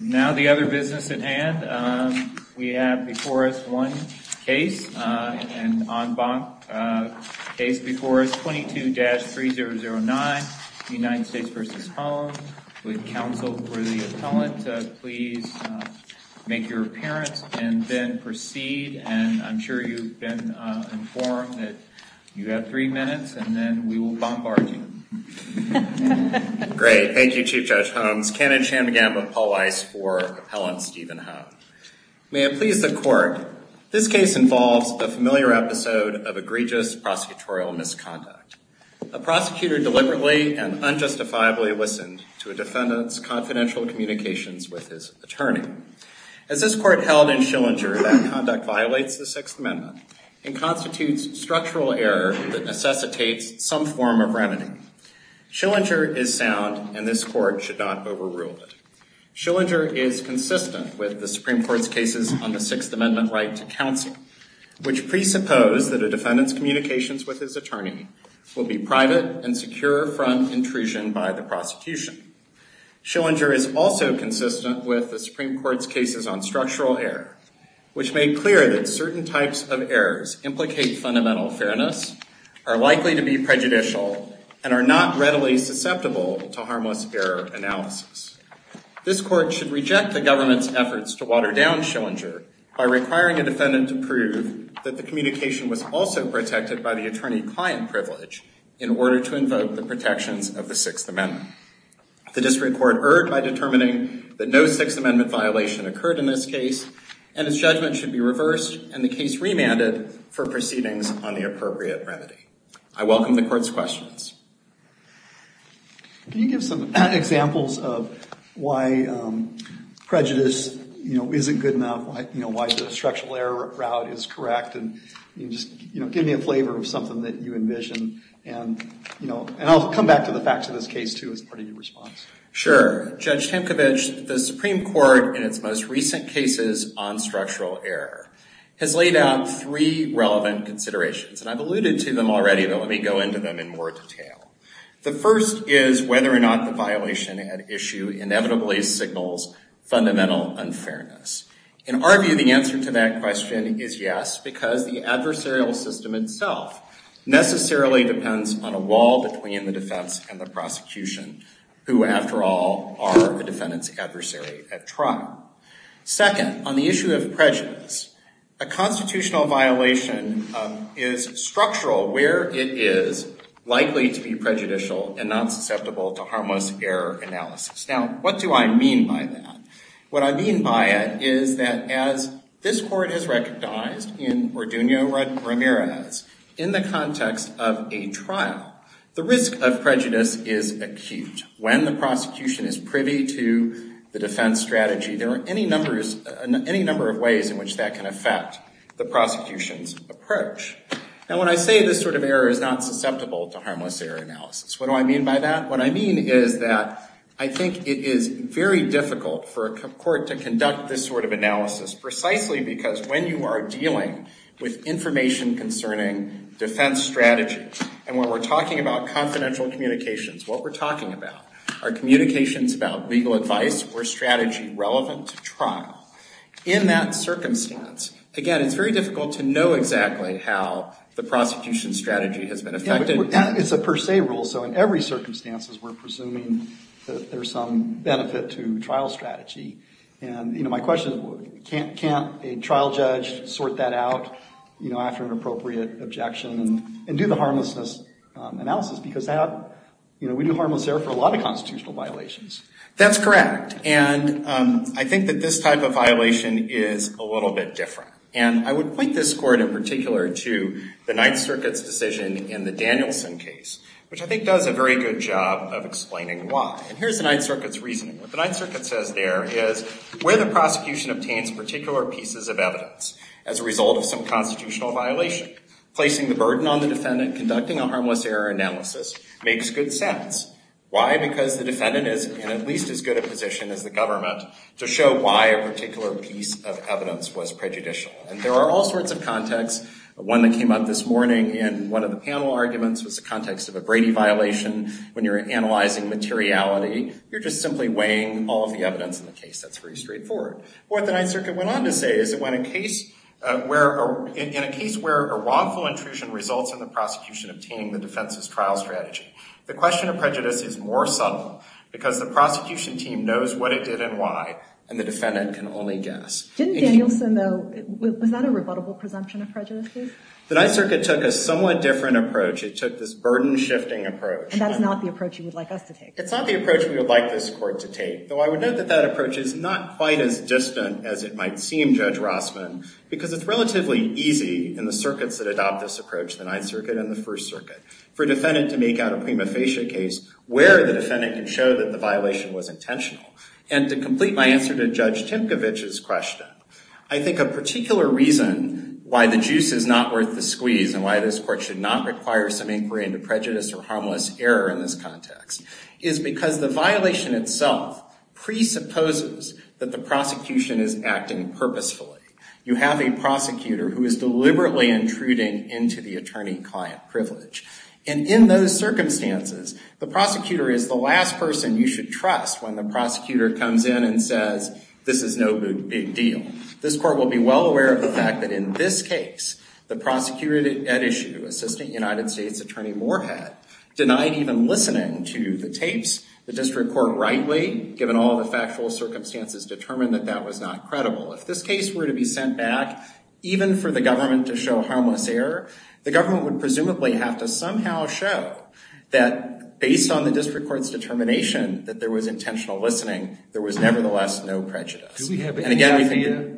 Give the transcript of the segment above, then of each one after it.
Now the other business at hand. We have before us one case, an en banc case before us, 22-3009 United States v. Hohn. Would counsel for the appellant please make your appearance and then proceed. And I'm sure you've been informed that you have three minutes and then we will bombard you. Great. Thank you, Chief Judge Holmes. Cannon Chandigam of Paul Weiss for Appellant Stephen Hohn. May it please the court, this case involves a familiar episode of egregious prosecutorial misconduct. A prosecutor deliberately and unjustifiably listened to a defendant's confidential communications with his attorney. As this court held in Schillinger, that conduct violates the Sixth Amendment and constitutes structural error that necessitates some form of remedy. Schillinger is sound and this court should not overrule it. Schillinger is consistent with the Supreme Court's cases on the Sixth Amendment right to counsel, which presuppose that a defendant's communications with his attorney will be private and secure from intrusion by the prosecution. Schillinger is also consistent with the Supreme Court's cases on structural error, which made clear that certain types of errors implicate fundamental fairness, are likely to be prejudicial, and are not readily susceptible to harmless error analysis. This court should reject the government's efforts to water down Schillinger by requiring a defendant to prove that the communication was also protected by the attorney-client privilege in order to invoke the protections of the Sixth Amendment. The district court erred by determining that no Sixth Amendment violation occurred in this case, and its judgment should be reversed and the case remanded for proceedings on the appropriate remedy. I welcome the court's questions. Can you give some examples of why prejudice isn't good enough? Why the structural error route is correct? And just give me a flavor of something that you envision. And I'll come back to the facts of this case, too, as part of your response. Sure. Judge Tamkovich, the Supreme Court, in its most recent cases on structural error, has laid out three relevant considerations. And I've alluded to them already, but let me go into them in more detail. The first is whether or not the violation at issue inevitably signals fundamental unfairness. In our view, the answer to that question is yes, because the adversarial system itself necessarily depends on a wall between the defense and the prosecution, who, after all, are the defendant's adversary at trial. Second, on the issue of prejudice, a constitutional violation is structural where it is likely to be prejudicial and not susceptible to harmless error analysis. Now, what do I mean by that? What I mean by it is that as this Court has recognized in Orduno Ramirez, in the context of a trial, the risk of prejudice is acute. When the prosecution is privy to the defense strategy, there are any number of ways in which that can affect the prosecution's approach. Now, when I say this sort of error is not susceptible to harmless error analysis, what do I mean by that? What I mean is that I think it is very difficult for a court to conduct this sort of analysis, precisely because when you are dealing with information concerning defense strategy, and when we are talking about confidential communications, what we are talking about are communications about legal advice or strategy relevant to trial. In that circumstance, again, it is very difficult to know exactly how the prosecution's strategy has been affected. It is a per se rule, so in every circumstance we are presuming that there is some benefit to trial strategy. My question is, can't a trial judge sort that out after an appropriate objection and do the harmlessness analysis? Because we do harmless error for a lot of constitutional violations. That's correct, and I think that this type of violation is a little bit different. I would point this Court in particular to the Ninth Circuit's decision in the Danielson case, which I think does a very good job of explaining why. Here is the Ninth Circuit's reasoning. What the Ninth Circuit says there is, where the prosecution obtains particular pieces of evidence as a result of some constitutional violation, placing the burden on the defendant conducting a harmless error analysis makes good sense. Why? Because the defendant is in at least as good a position as the government to show why a particular piece of evidence was prejudicial. There are all sorts of contexts. One that came up this morning in one of the panel arguments was the context of a Brady violation. When you're analyzing materiality, you're just simply weighing all of the evidence in the case. That's very straightforward. What the Ninth Circuit went on to say is that in a case where a wrongful intrusion results in the prosecution obtaining the defense's trial strategy, the question of prejudice is more subtle because the prosecution team knows what it did and why, and the defendant can only guess. Didn't Danielson, though, was that a rebuttable presumption of prejudice? The Ninth Circuit took a somewhat different approach. It took this burden-shifting approach. And that's not the approach you would like us to take. It's not the approach we would like this Court to take, though I would note that that approach is not quite as distant as it might seem, Judge Rossman, because it's relatively easy in the circuits that adopt this approach, the Ninth Circuit and the First Circuit, for a defendant to make out a prima facie case where the defendant can show that the violation was intentional. And to complete my answer to Judge Timkovich's question, I think a particular reason why the juice is not worth the squeeze and why this Court should not require some inquiry into prejudice or harmless error in this context is because the violation itself presupposes that the prosecution is acting purposefully. You have a prosecutor who is deliberately intruding into the attorney-client privilege. And in those circumstances, the prosecutor is the last person you should trust when the prosecutor comes in and says this is no big deal. This Court will be well aware of the fact that in this case, the prosecutor at issue, Assistant United States Attorney Moorhead, denied even listening to the tapes. The district court rightly, given all the factual circumstances, determined that that was not credible. If this case were to be sent back, even for the government to show harmless error, the government would presumably have to somehow show that based on the district court's determination that there was intentional listening, there was nevertheless no prejudice. Do we have any idea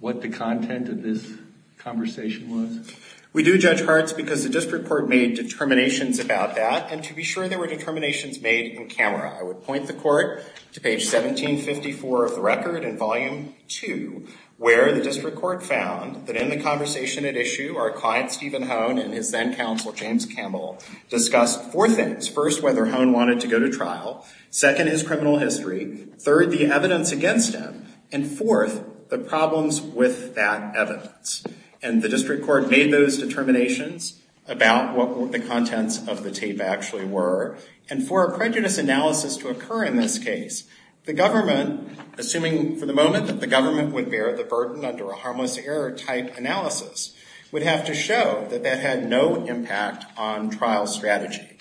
what the content of this conversation was? We do, Judge Hartz, because the district court made determinations about that. And to be sure, there were determinations made in camera. I would point the court to page 1754 of the record in volume 2, where the district court found that in the conversation at issue, our client Stephen Hone and his then-counsel James Campbell discussed four things. First, whether Hone wanted to go to trial. Second, his criminal history. Third, the evidence against him. And fourth, the problems with that evidence. And the district court made those determinations about what the contents of the tape actually were. And for a prejudice analysis to occur in this case, the government, assuming for the moment that the government would bear the burden under a harmless error type analysis, would have to show that that had no impact on trial strategy.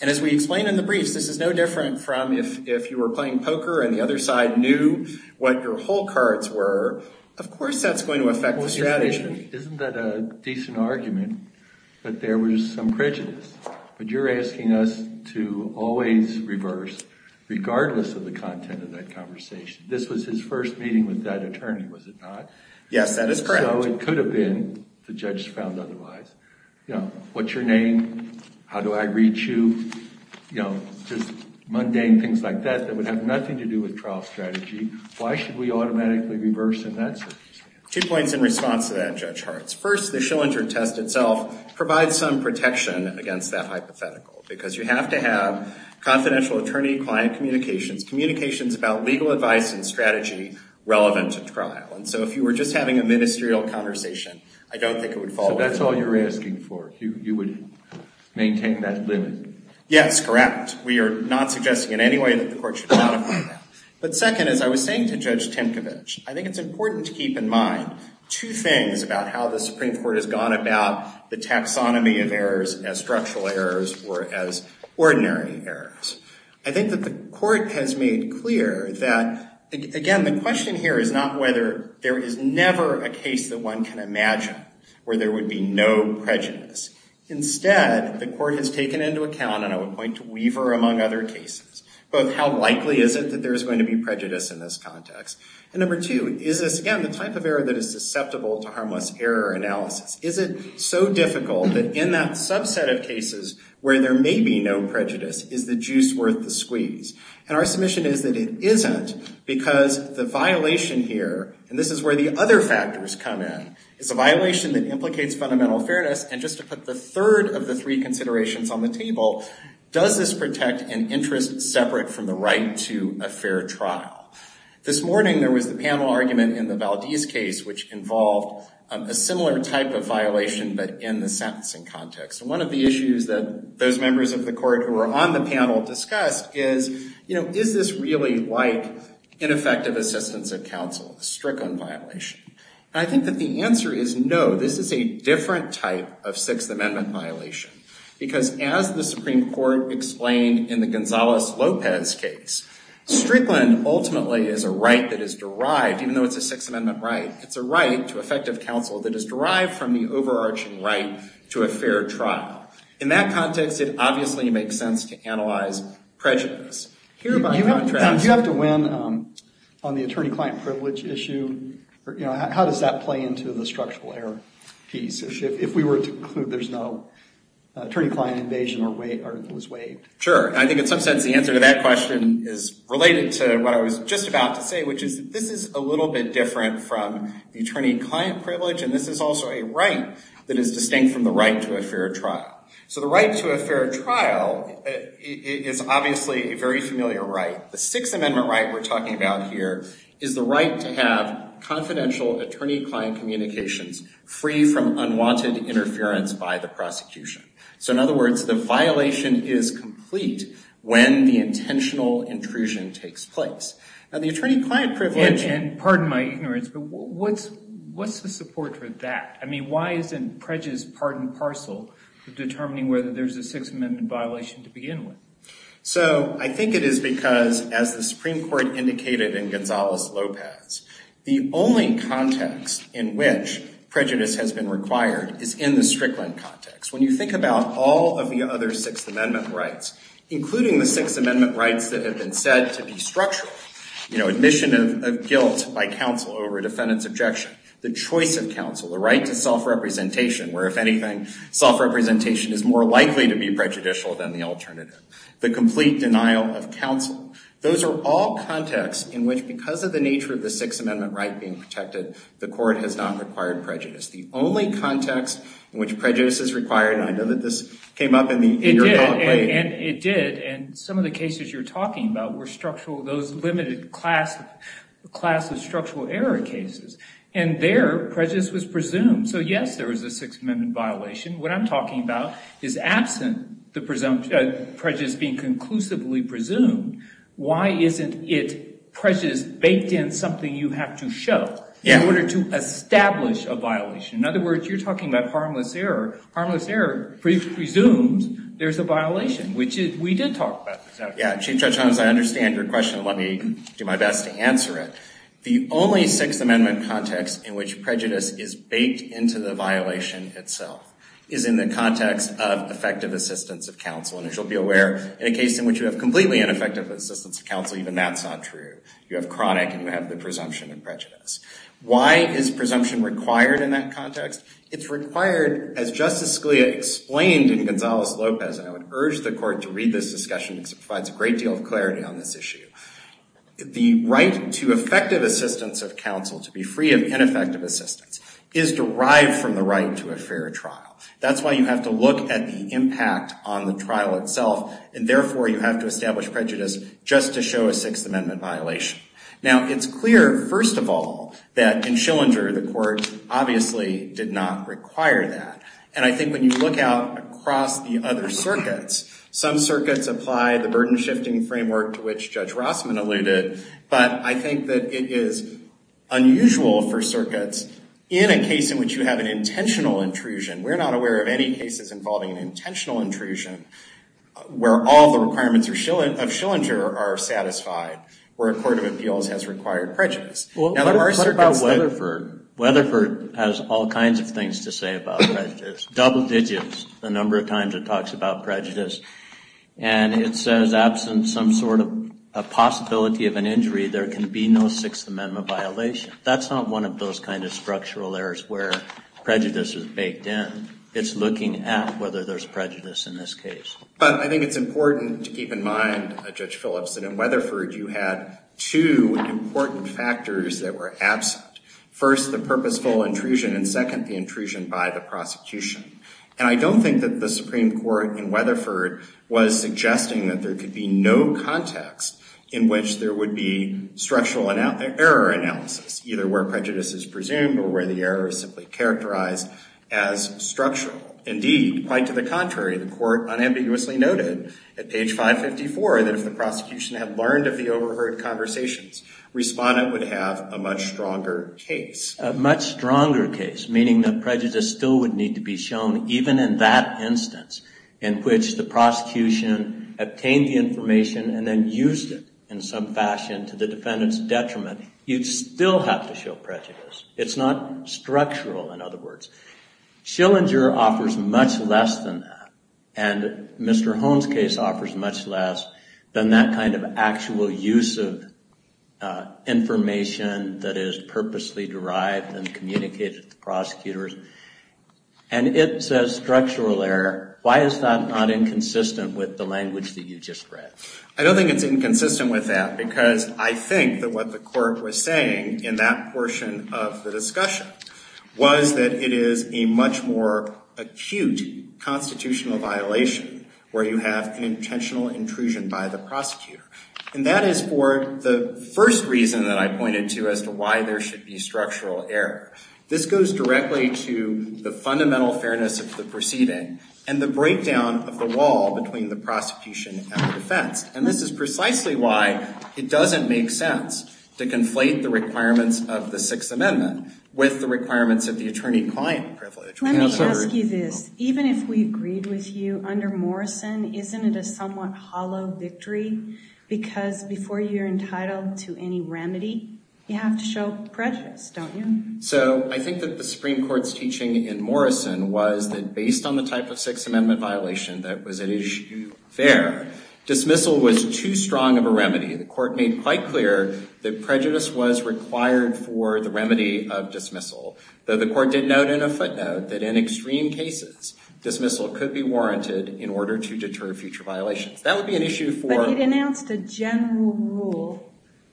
And as we explained in the briefs, this is no different from if you were playing poker and the other side knew what your whole cards were, of course that's going to affect the strategy. Isn't that a decent argument, that there was some prejudice? But you're asking us to always reverse, regardless of the content of that conversation. This was his first meeting with that attorney, was it not? Yes, that is correct. So it could have been, the judge found otherwise. What's your name? How do I reach you? Just mundane things like that that would have nothing to do with trial strategy. Why should we automatically reverse in that circumstance? Two points in response to that, Judge Hartz. First, the Schillinger test itself provides some protection against that hypothetical, because you have to have confidential attorney-client communications, communications about legal advice and strategy relevant to trial. And so if you were just having a ministerial conversation, I don't think it would fall into that. So that's all you're asking for, you would maintain that limit? Yes, correct. We are not suggesting in any way that the court should not apply that. But second, as I was saying to Judge Timkovich, I think it's important to keep in mind two things about how the Supreme Court has gone about the taxonomy of errors as structural errors or as ordinary errors. I think that the court has made clear that, again, the question here is not whether there is never a case that one can imagine where there would be no prejudice. Instead, the court has taken into account, and I would point to Weaver among other cases, both how likely is it that there is going to be prejudice in this context, and number two, is this, again, the type of error that is susceptible to harmless error analysis? Is it so difficult that in that subset of cases where there may be no prejudice, is the juice worth the squeeze? And our submission is that it isn't because the violation here, and this is where the other factors come in, is a violation that implicates fundamental fairness. And just to put the third of the three considerations on the table, does this protect an interest separate from the right to a fair trial? This morning there was the panel argument in the Valdez case, which involved a similar type of violation but in the sentencing context. And one of the issues that those members of the court who were on the panel discussed is, you know, is this really like ineffective assistance of counsel, a Strickland violation? And I think that the answer is no. This is a different type of Sixth Amendment violation, because as the Supreme Court explained in the Gonzales-Lopez case, Strickland ultimately is a right that is derived, even though it's a Sixth Amendment right, it's a right to effective counsel that is derived from the overarching right to a fair trial. In that context, it obviously makes sense to analyze prejudice. You have to win on the attorney-client privilege issue. You know, how does that play into the structural error piece? If we were to conclude there's no attorney-client invasion or it was waived. Sure. I think in some sense the answer to that question is related to what I was just about to say, which is this is a little bit different from the attorney-client privilege, and this is also a right that is distinct from the right to a fair trial. So the right to a fair trial is obviously a very familiar right. The Sixth Amendment right we're talking about here is the right to have confidential attorney-client communications free from unwanted interference by the prosecution. So in other words, the violation is complete when the intentional intrusion takes place. Now, the attorney-client privilege— And pardon my ignorance, but what's the support for that? I mean, why isn't prejudice part and parcel of determining whether there's a Sixth Amendment violation to begin with? So I think it is because, as the Supreme Court indicated in Gonzales-Lopez, the only context in which prejudice has been required is in the Strickland context. When you think about all of the other Sixth Amendment rights, including the Sixth Amendment rights that have been said to be structural— you know, admission of guilt by counsel over a defendant's objection, the choice of counsel, the right to self-representation, where, if anything, self-representation is more likely to be prejudicial than the alternative, the complete denial of counsel— those are all contexts in which, because of the nature of the Sixth Amendment right being protected, the Court has not required prejudice. It's the only context in which prejudice is required, and I know that this came up in the— It did, and it did. And some of the cases you're talking about were structural— those limited class of structural error cases. And there, prejudice was presumed. So, yes, there was a Sixth Amendment violation. What I'm talking about is, absent the prejudice being conclusively presumed, why isn't it prejudice baked in something you have to show in order to establish a violation? In other words, you're talking about harmless error. Harmless error presumes there's a violation, which we did talk about. Yeah, Chief Judge Holmes, I understand your question. Let me do my best to answer it. The only Sixth Amendment context in which prejudice is baked into the violation itself is in the context of effective assistance of counsel. And as you'll be aware, in a case in which you have completely ineffective assistance of counsel, even that's not true. You have chronic, and you have the presumption of prejudice. Why is presumption required in that context? It's required, as Justice Scalia explained in Gonzales-Lopez, and I would urge the Court to read this discussion because it provides a great deal of clarity on this issue. The right to effective assistance of counsel, to be free of ineffective assistance, is derived from the right to a fair trial. That's why you have to look at the impact on the trial itself, and therefore you have to establish prejudice just to show a Sixth Amendment violation. Now, it's clear, first of all, that in Schillinger the Court obviously did not require that. And I think when you look out across the other circuits, some circuits apply the burden-shifting framework to which Judge Rossman alluded, but I think that it is unusual for circuits in a case in which you have an intentional intrusion. We're not aware of any cases involving an intentional intrusion where all the requirements of Schillinger are satisfied, where a court of appeals has required prejudice. What about Weatherford? Weatherford has all kinds of things to say about prejudice, double digits, the number of times it talks about prejudice. And it says, absent some sort of possibility of an injury, there can be no Sixth Amendment violation. That's not one of those kinds of structural errors where prejudice is baked in. It's looking at whether there's prejudice in this case. But I think it's important to keep in mind, Judge Phillips, that in Weatherford you had two important factors that were absent. First, the purposeful intrusion, and second, the intrusion by the prosecution. And I don't think that the Supreme Court in Weatherford was suggesting that there could be no context in which there would be structural error analysis, either where prejudice is presumed or where the error is simply characterized as structural. Indeed, quite to the contrary, the court unambiguously noted at page 554 that if the prosecution had learned of the overheard conversations, Respondent would have a much stronger case. A much stronger case, meaning that prejudice still would need to be shown, even in that instance in which the prosecution obtained the information and then used it in some fashion to the defendant's detriment. You'd still have to show prejudice. It's not structural, in other words. Schillinger offers much less than that. And Mr. Hohn's case offers much less than that kind of actual use of information that is purposely derived and communicated to prosecutors. And it says structural error. Why is that not inconsistent with the language that you just read? I don't think it's inconsistent with that, because I think that what the court was saying in that portion of the discussion was that it is a much more acute constitutional violation where you have an intentional intrusion by the prosecutor. And that is for the first reason that I pointed to as to why there should be structural error. This goes directly to the fundamental fairness of the proceeding and the breakdown of the wall between the prosecution and the defense. And this is precisely why it doesn't make sense to conflate the requirements of the Sixth Amendment with the requirements of the attorney-client privilege. Let me ask you this. Even if we agreed with you under Morrison, isn't it a somewhat hollow victory? Because before you're entitled to any remedy, you have to show prejudice, don't you? So I think that the Supreme Court's teaching in Morrison was that based on the type of Sixth Amendment violation that was at issue there, dismissal was too strong of a remedy. The court made quite clear that prejudice was required for the remedy of dismissal, though the court did note in a footnote that in extreme cases, dismissal could be warranted in order to deter future violations. That would be an issue for—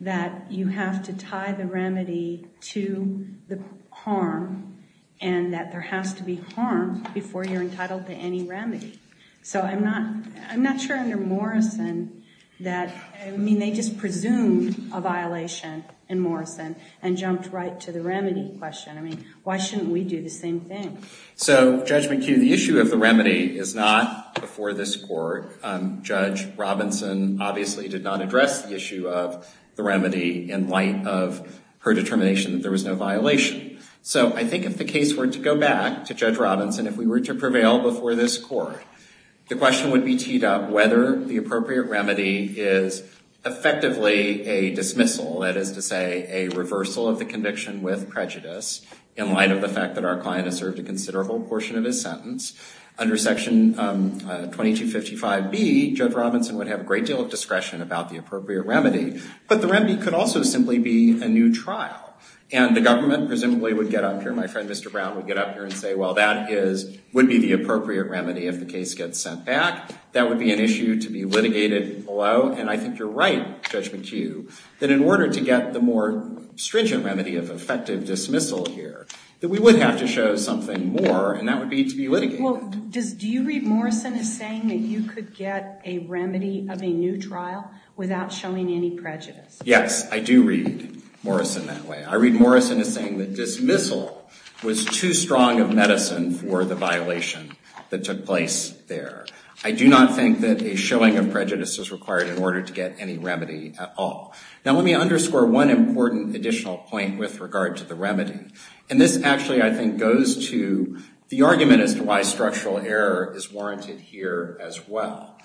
that you have to tie the remedy to the harm and that there has to be harm before you're entitled to any remedy. So I'm not sure under Morrison that—I mean, they just presumed a violation in Morrison and jumped right to the remedy question. I mean, why shouldn't we do the same thing? So, Judge McHugh, the issue of the remedy is not before this court. Judge Robinson obviously did not address the issue of the remedy in light of her determination that there was no violation. So I think if the case were to go back to Judge Robinson, if we were to prevail before this court, the question would be teed up whether the appropriate remedy is effectively a dismissal, that is to say a reversal of the conviction with prejudice in light of the fact that our client has served a considerable portion of his sentence. Under Section 2255B, Judge Robinson would have a great deal of discretion about the appropriate remedy, but the remedy could also simply be a new trial, and the government presumably would get up here, my friend Mr. Brown would get up here and say, well, that would be the appropriate remedy if the case gets sent back. That would be an issue to be litigated below, and I think you're right, Judge McHugh, that in order to get the more stringent remedy of effective dismissal here, that we would have to show something more, and that would be to be litigated. Well, do you read Morrison as saying that you could get a remedy of a new trial without showing any prejudice? Yes, I do read Morrison that way. I read Morrison as saying that dismissal was too strong of medicine for the violation that took place there. I do not think that a showing of prejudice is required in order to get any remedy at all. Now let me underscore one important additional point with regard to the remedy, and this actually I think goes to the argument as to why structural error is warranted here as well.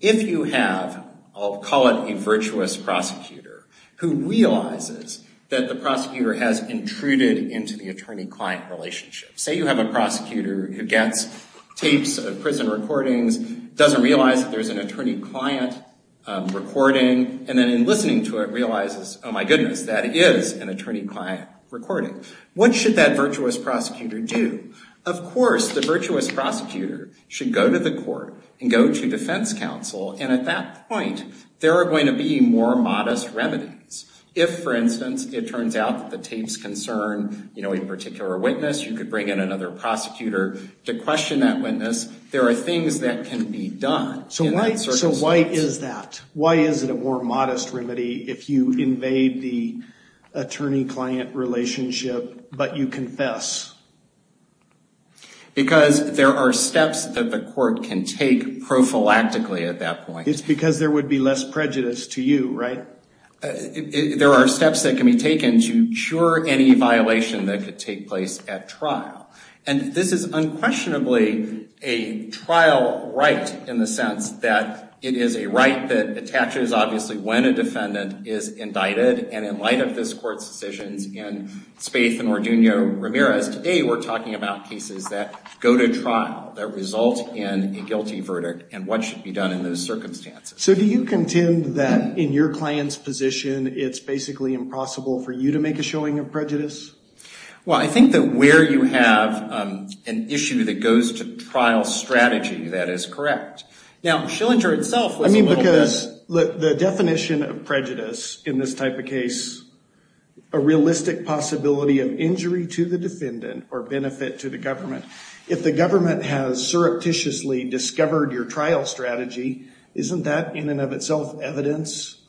If you have, I'll call it a virtuous prosecutor, who realizes that the prosecutor has intruded into the attorney-client relationship. Say you have a prosecutor who gets tapes of prison recordings, doesn't realize that there's an attorney-client recording, and then in listening to it realizes, oh my goodness, that is an attorney-client recording. What should that virtuous prosecutor do? Of course, the virtuous prosecutor should go to the court and go to defense counsel, and at that point there are going to be more modest remedies. If, for instance, it turns out that the tapes concern a particular witness, you could bring in another prosecutor to question that witness. There are things that can be done in that circumstance. Why is that? Why is it a more modest remedy if you invade the attorney-client relationship but you confess? Because there are steps that the court can take prophylactically at that point. It's because there would be less prejudice to you, right? There are steps that can be taken to cure any violation that could take place at trial. And this is unquestionably a trial right in the sense that it is a right that attaches, obviously, when a defendant is indicted, and in light of this court's decisions in Spaith and Orduno Ramirez, today we're talking about cases that go to trial, that result in a guilty verdict, and what should be done in those circumstances. So do you contend that in your client's position it's basically impossible for you to make a showing of prejudice? Well, I think that where you have an issue that goes to trial strategy, that is correct. Now, Schillinger itself was a little bit... I mean, because the definition of prejudice in this type of case, a realistic possibility of injury to the defendant or benefit to the government. If the government has surreptitiously discovered your trial strategy, isn't that in and of itself evidence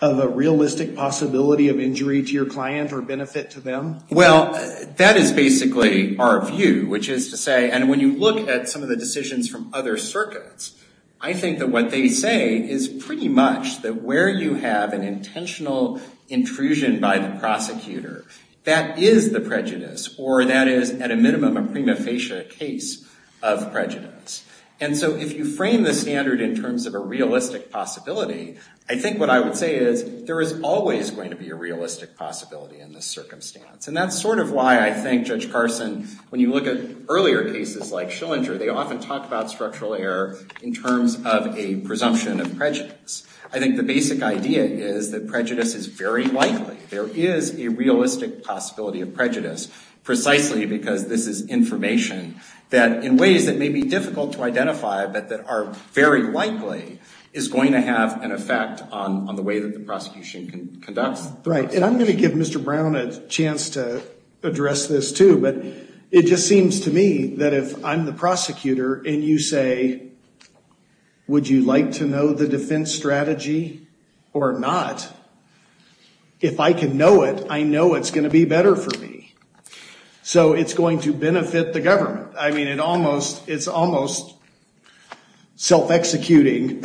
of a realistic possibility of injury to your client or benefit to them? Well, that is basically our view, which is to say... And when you look at some of the decisions from other circuits, I think that what they say is pretty much that where you have an intentional intrusion by the prosecutor, that is the prejudice, or that is, at a minimum, a prima facie case of prejudice. And so if you frame the standard in terms of a realistic possibility, I think what I would say is there is always going to be a realistic possibility in this circumstance. And that's sort of why I think Judge Carson, when you look at earlier cases like Schillinger, they often talk about structural error in terms of a presumption of prejudice. I think the basic idea is that prejudice is very likely. There is a realistic possibility of prejudice, precisely because this is information that in ways that may be difficult to identify but that are very likely is going to have an effect on the way that the prosecution conducts. Right. And I'm going to give Mr. Brown a chance to address this too, but it just seems to me that if I'm the prosecutor and you say, would you like to know the defense strategy or not? If I can know it, I know it's going to be better for me. So it's going to benefit the government. I mean, it's almost self-executing.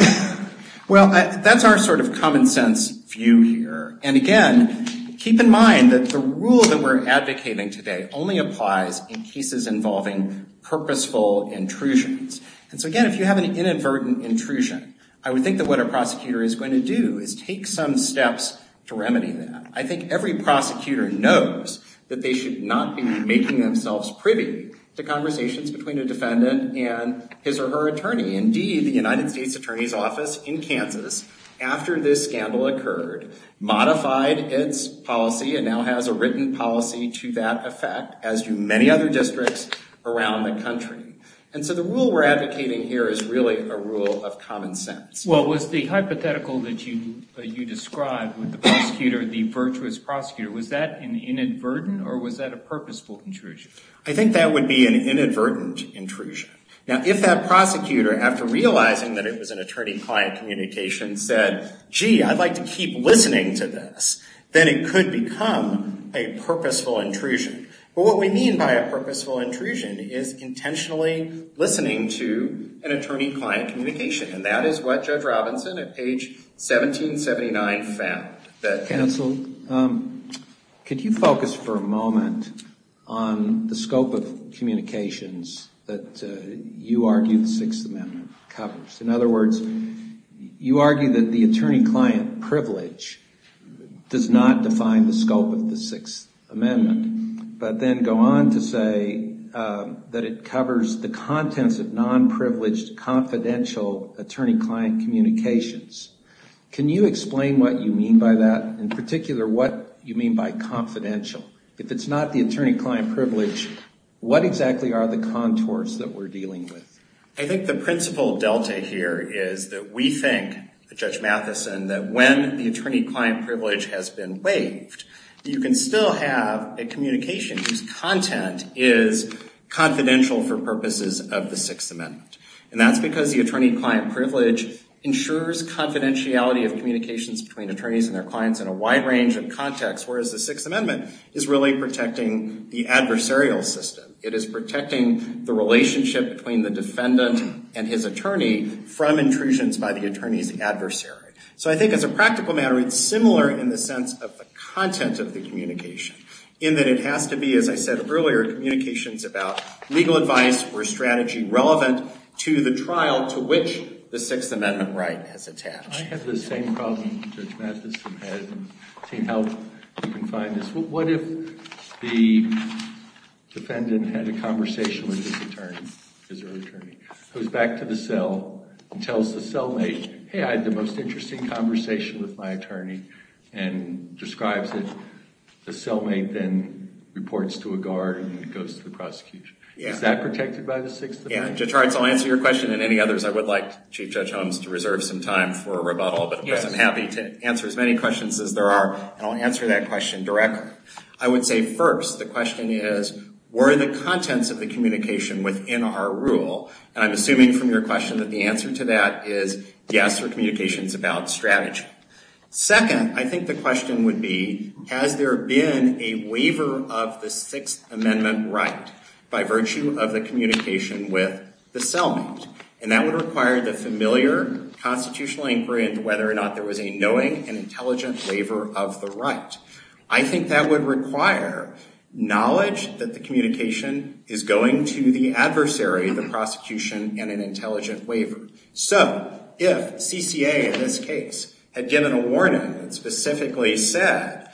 Well, that's our sort of common sense view here. And again, keep in mind that the rule that we're advocating today only applies in cases involving purposeful intrusions. And so again, if you have an inadvertent intrusion, I would think that what a prosecutor is going to do is take some steps to remedy that. I think every prosecutor knows that they should not be making themselves privy to conversations between a defendant and his or her attorney. Indeed, the United States Attorney's Office in Kansas, after this scandal occurred, modified its policy and now has a written policy to that effect, as do many other districts around the country. And so the rule we're advocating here is really a rule of common sense. Well, was the hypothetical that you described with the prosecutor, the virtuous prosecutor, was that an inadvertent or was that a purposeful intrusion? I think that would be an inadvertent intrusion. Now, if that prosecutor, after realizing that it was an attorney-client communication, said, gee, I'd like to keep listening to this, then it could become a purposeful intrusion. But what we mean by a purposeful intrusion is intentionally listening to an attorney-client communication. And that is what Judge Robinson at page 1779 found. Counsel, could you focus for a moment on the scope of communications that you argue the Sixth Amendment covers? In other words, you argue that the attorney-client privilege does not define the scope of the Sixth Amendment, but then go on to say that it covers the contents of non-privileged, confidential attorney-client communications. Can you explain what you mean by that? In particular, what you mean by confidential? If it's not the attorney-client privilege, what exactly are the contours that we're dealing with? I think the principal delta here is that we think, Judge Matheson, that when the attorney-client privilege has been waived, you can still have a communication whose content is confidential for purposes of the Sixth Amendment. And that's because the attorney-client privilege ensures confidentiality of communications between attorneys and their clients in a wide range of contexts, whereas the Sixth Amendment is really protecting the adversarial system. It is protecting the relationship between the defendant and his attorney from intrusions by the attorney's adversary. So I think as a practical matter, it's similar in the sense of the content of the communication, in that it has to be, as I said earlier, communications about legal advice or strategy relevant to the trial to which the Sixth Amendment right has attached. I have the same problem, Judge Matheson has, and I've seen how you can find this. What if the defendant had a conversation with his attorney, his early attorney, goes back to the cell and tells the cellmate, hey, I had the most interesting conversation with my attorney, and describes it. The cellmate then reports to a guard and goes to the prosecution. Is that protected by the Sixth Amendment? Yeah, Judge Hartz, I'll answer your question and any others. I would like Chief Judge Holmes to reserve some time for rebuttal, but of course I'm happy to answer as many questions as there are, and I'll answer that question directly. I would say, first, the question is, were the contents of the communication within our rule, and I'm assuming from your question that the answer to that is yes, or communications about strategy. Second, I think the question would be, has there been a waiver of the Sixth Amendment right, by virtue of the communication with the cellmate? And that would require the familiar constitutional inquiry into whether or not there was a knowing and intelligent waiver of the right. I think that would require knowledge that the communication is going to the adversary, the prosecution, and an intelligent waiver. So, if CCA in this case had given a warning that specifically said,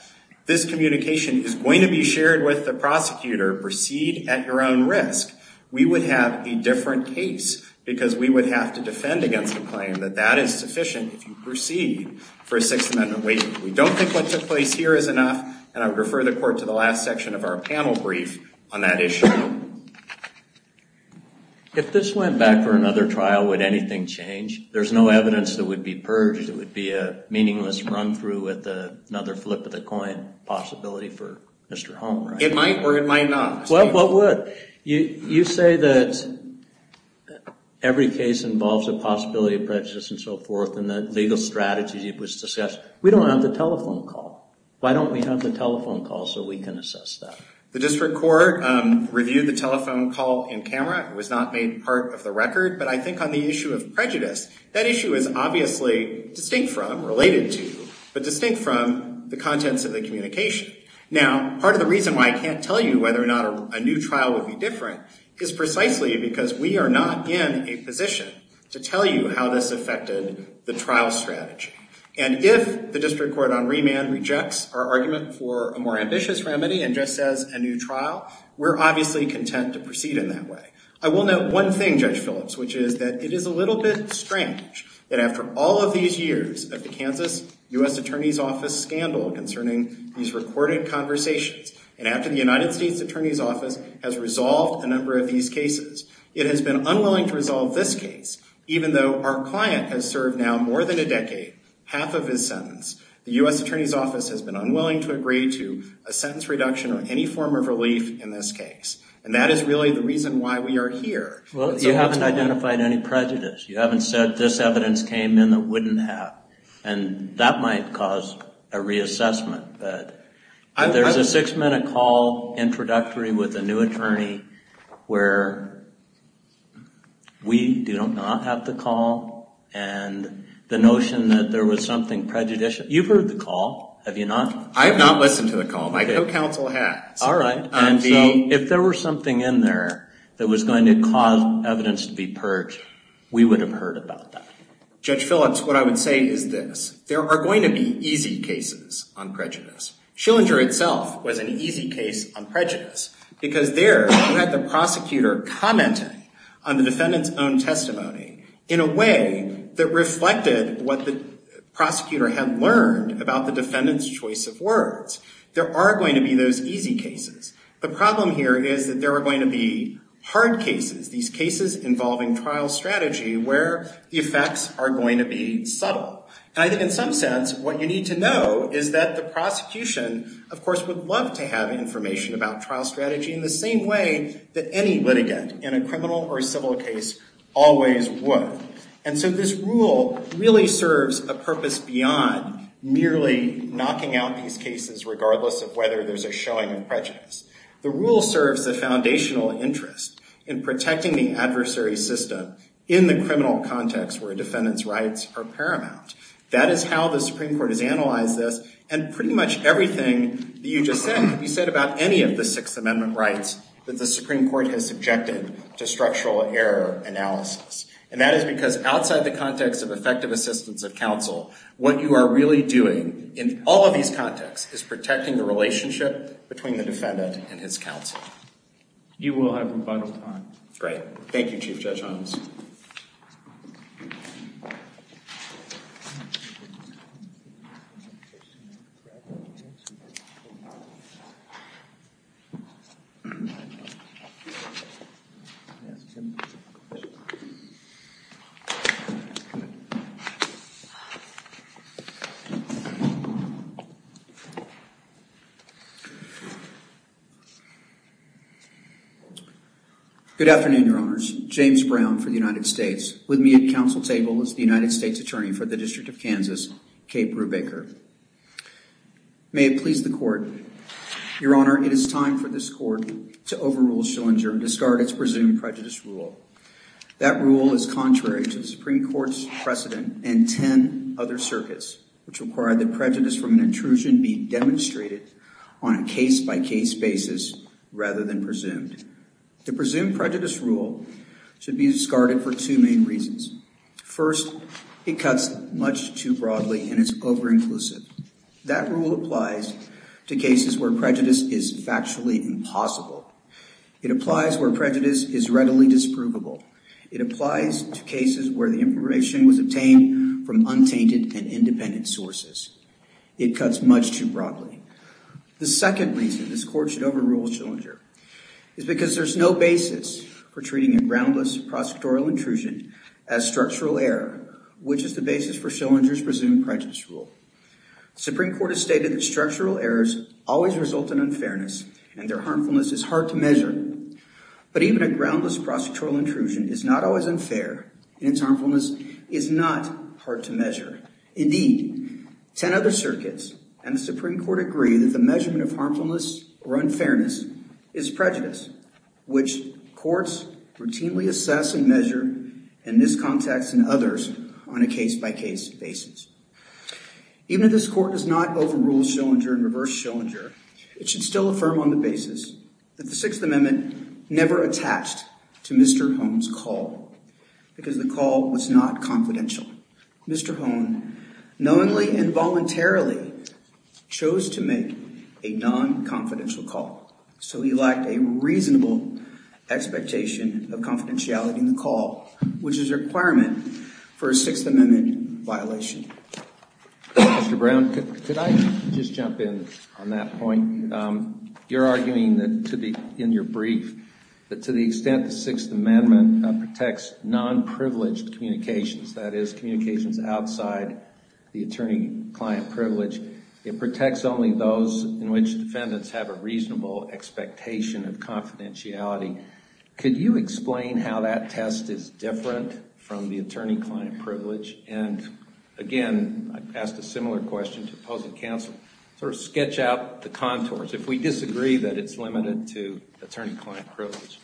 this communication is going to be shared with the prosecutor, proceed at your own risk, we would have a different case, because we would have to defend against the claim that that is sufficient if you proceed for a Sixth Amendment waiver. We don't think what took place here is enough, and I would refer the court to the last section of our panel brief on that issue. If this went back for another trial, would anything change? There's no evidence that would be purged. It would be a meaningless run-through with another flip of the coin possibility for Mr. Holm, right? It might or it might not. Well, what would? You say that every case involves a possibility of prejudice and so forth, and the legal strategy was discussed. We don't have the telephone call. Why don't we have the telephone call so we can assess that? The district court reviewed the telephone call in camera. It was not made part of the record. But I think on the issue of prejudice, that issue is obviously distinct from, related to, but distinct from the contents of the communication. Now, part of the reason why I can't tell you whether or not a new trial would be different is precisely because we are not in a position to tell you how this affected the trial strategy. And if the district court on remand rejects our argument for a more ambitious remedy and just says a new trial, we're obviously content to proceed in that way. I will note one thing, Judge Phillips, which is that it is a little bit strange that after all of these years of the Kansas U.S. Attorney's Office scandal concerning these recorded conversations, and after the United States Attorney's Office has resolved a number of these cases, it has been unwilling to resolve this case, even though our client has served now more than a decade, half of his sentence. The U.S. Attorney's Office has been unwilling to agree to a sentence reduction or any form of relief in this case. And that is really the reason why we are here. Well, you haven't identified any prejudice. You haven't said this evidence came in that wouldn't have. And that might cause a reassessment. But there's a six-minute call introductory with a new attorney where we do not have the call, and the notion that there was something prejudicial. You've heard the call. Have you not? I have not listened to the call. My co-counsel has. All right. And so if there was something in there that was going to cause evidence to be purged, we would have heard about that. Judge Phillips, what I would say is this. There are going to be easy cases on prejudice. Schillinger itself was an easy case on prejudice because there you had the prosecutor commenting on the defendant's own testimony in a way that reflected what the prosecutor had learned about the defendant's choice of words. There are going to be those easy cases. The problem here is that there are going to be hard cases, these cases involving trial strategy where the effects are going to be subtle. And I think in some sense what you need to know is that the prosecution, of course, would love to have information about trial strategy in the same way that any litigant in a criminal or civil case always would. And so this rule really serves a purpose beyond merely knocking out these cases regardless of whether there's a showing of prejudice. The rule serves a foundational interest in protecting the adversary system in the criminal context where a defendant's rights are paramount. That is how the Supreme Court has analyzed this, and pretty much everything that you just said can be said about any of the Sixth Amendment rights that the Supreme Court has subjected to structural error analysis. And that is because outside the context of effective assistance of counsel, what you are really doing in all of these contexts is protecting the relationship between the defendant and his counsel. You will have your final time. Great. Thank you, Chief Judge Holmes. Good afternoon, Your Honors. James Brown for the United States. With me at counsel table is the United States Attorney for the District of Kansas, Kate Brubaker. May it please the Court. Your Honor, it is time for this Court to overrule Schillinger and discard its presumed prejudice rule. That rule is contrary to the Supreme Court's precedent and 10 other circuits which require that prejudice from an intrusion be demonstrated on a case-by-case basis rather than presumed. The presumed prejudice rule should be discarded for two main reasons. First, it cuts much too broadly and is over-inclusive. That rule applies to cases where prejudice is factually impossible. It applies where prejudice is readily disprovable. It applies to cases where the information was obtained from untainted and independent sources. It cuts much too broadly. The second reason this Court should overrule Schillinger is because there's no basis for treating a groundless prosecutorial intrusion as structural error, which is the basis for Schillinger's presumed prejudice rule. The Supreme Court has stated that structural errors always result in unfairness and their harmfulness is hard to measure. But even a groundless prosecutorial intrusion is not always unfair and its harmfulness is not hard to measure. Indeed, 10 other circuits and the Supreme Court agree that the measurement of harmfulness or unfairness is prejudice, which courts routinely assess and measure in this context and others on a case-by-case basis. Even if this Court does not overrule Schillinger and reverse Schillinger, it should still affirm on the basis that the Sixth Amendment never attached to Mr. Hone's call because the call was not confidential. Mr. Hone knowingly and voluntarily chose to make a non-confidential call, so he lacked a reasonable expectation of confidentiality in the call, which is a requirement for a Sixth Amendment violation. Mr. Brown, could I just jump in on that point? You're arguing that, in your brief, that to the extent the Sixth Amendment protects non-privileged communications, that is, communications outside the attorney-client privilege, it protects only those in which defendants have a reasonable expectation of confidentiality. Could you explain how that test is different from the attorney-client privilege? And, again, I've asked a similar question to opposing counsel. Sort of sketch out the contours, if we disagree that it's limited to attorney-client privilege.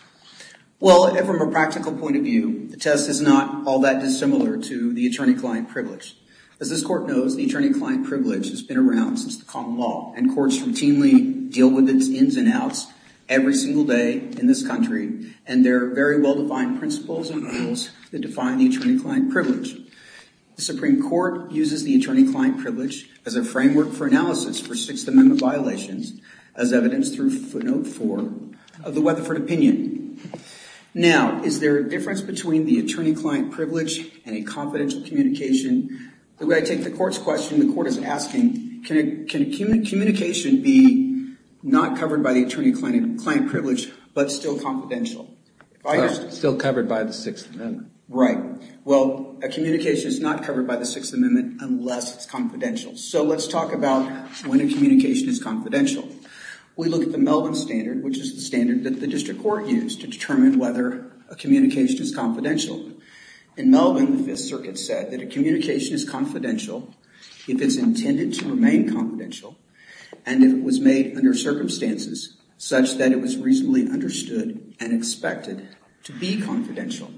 Well, from a practical point of view, the test is not all that dissimilar to the attorney-client privilege. As this Court knows, the attorney-client privilege has been around since the common law, and courts routinely deal with its ins and outs every single day in this country, and there are very well-defined principles and rules that define the attorney-client privilege. The Supreme Court uses the attorney-client privilege as a framework for analysis for Sixth Amendment violations, as evidenced through footnote 4 of the Weatherford opinion. Now, is there a difference between the attorney-client privilege and a confidential communication? The way I take the Court's question, the Court is asking, can a communication be not covered by the attorney-client privilege but still confidential? Still covered by the Sixth Amendment. Right. Well, a communication is not covered by the Sixth Amendment unless it's confidential. So let's talk about when a communication is confidential. We look at the Melbourne Standard, which is the standard that the District Court used to determine whether a communication is confidential. In Melbourne, the Fifth Circuit said that a communication is confidential if it's intended to remain confidential and if it was made under circumstances such that it was reasonably understood and expected to be confidential.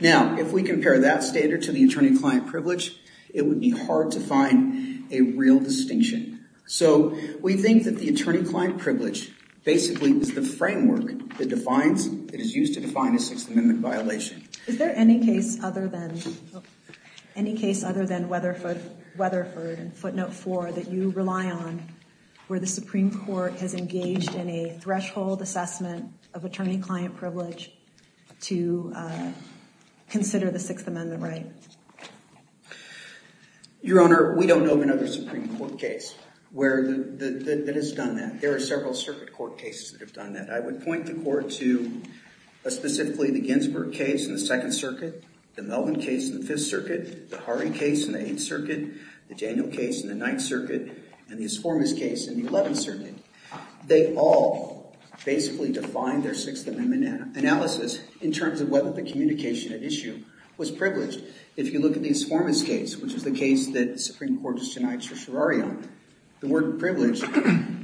Now, if we compare that standard to the attorney-client privilege, it would be hard to find a real distinction. So we think that the attorney-client privilege basically is the framework that is used to define a Sixth Amendment violation. Is there any case other than Weatherford and footnote 4 that you rely on where the Supreme Court has engaged in a threshold assessment of attorney-client privilege to consider the Sixth Amendment right? Your Honor, we don't know of another Supreme Court case that has done that. There are several circuit court cases that have done that. I would point the Court to specifically the Ginsburg case in the Second Circuit, the Melbourne case in the Fifth Circuit, the Harre case in the Eighth Circuit, the Daniel case in the Ninth Circuit, and the Asformis case in the Eleventh Circuit. They all basically define their Sixth Amendment analysis in terms of whether the communication at issue was privileged. If you look at the Asformis case, which is the case that the Supreme Court just denied to Serrario, the word privilege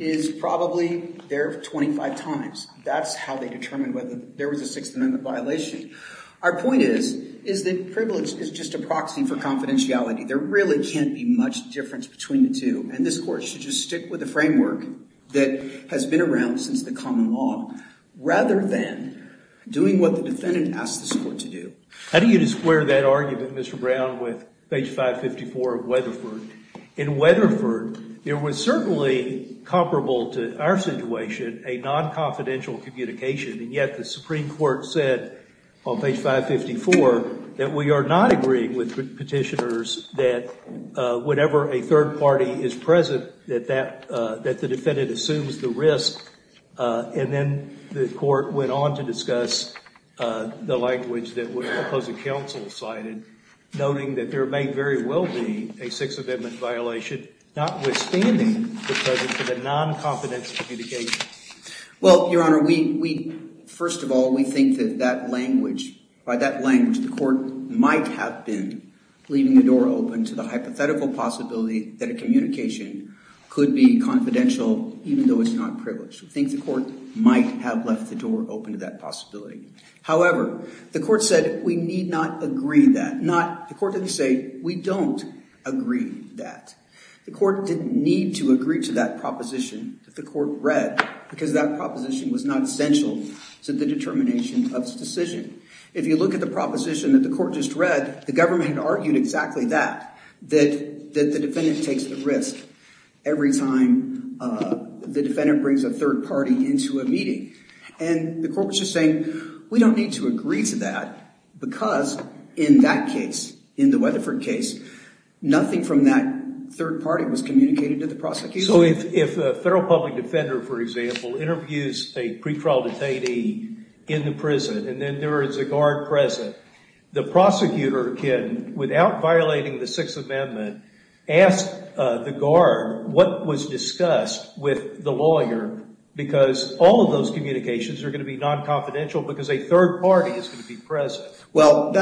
is probably there 25 times. That's how they determined whether there was a Sixth Amendment violation. Our point is that privilege is just a proxy for confidentiality. There really can't be much difference between the two and this Court should just stick with the framework that has been around since the common law rather than doing what the defendant asked this Court to do. How do you square that argument, Mr. Brown, with page 554 of Weatherford? In Weatherford, there was certainly comparable to our situation a non-confidential communication and yet the Supreme Court said on page 554 that we are not agreeing with petitioners that whenever a third party is present that the defendant assumes the risk. And then the Court went on to discuss the language that the opposing counsel cited, noting that there may very well be a Sixth Amendment violation notwithstanding the presence of a non-confidential communication. Well, Your Honor, first of all, we think that by that language the Court might have been leaving the door open to the hypothetical possibility that a communication could be confidential even though it's not privileged. We think the Court might have left the door open to that possibility. However, the Court said we need not agree that. The Court didn't say we don't agree that. The Court didn't need to agree to that proposition that the Court read because that proposition was not essential to the determination of the decision. If you look at the proposition that the Court just read, the government argued exactly that, that the defendant takes the risk every time the defendant brings a third party into a meeting. And the Court was just saying we don't need to agree to that because in that case, in the Weatherford case, nothing from that third party was communicated to the prosecutor. So if a federal public defender, for example, interviews a pretrial detainee in the prison and then there is a guard present, the prosecutor can, without violating the Sixth Amendment, ask the guard what was discussed with the lawyer because all of those communications are going to be non-confidential because a third party is going to be present. Well,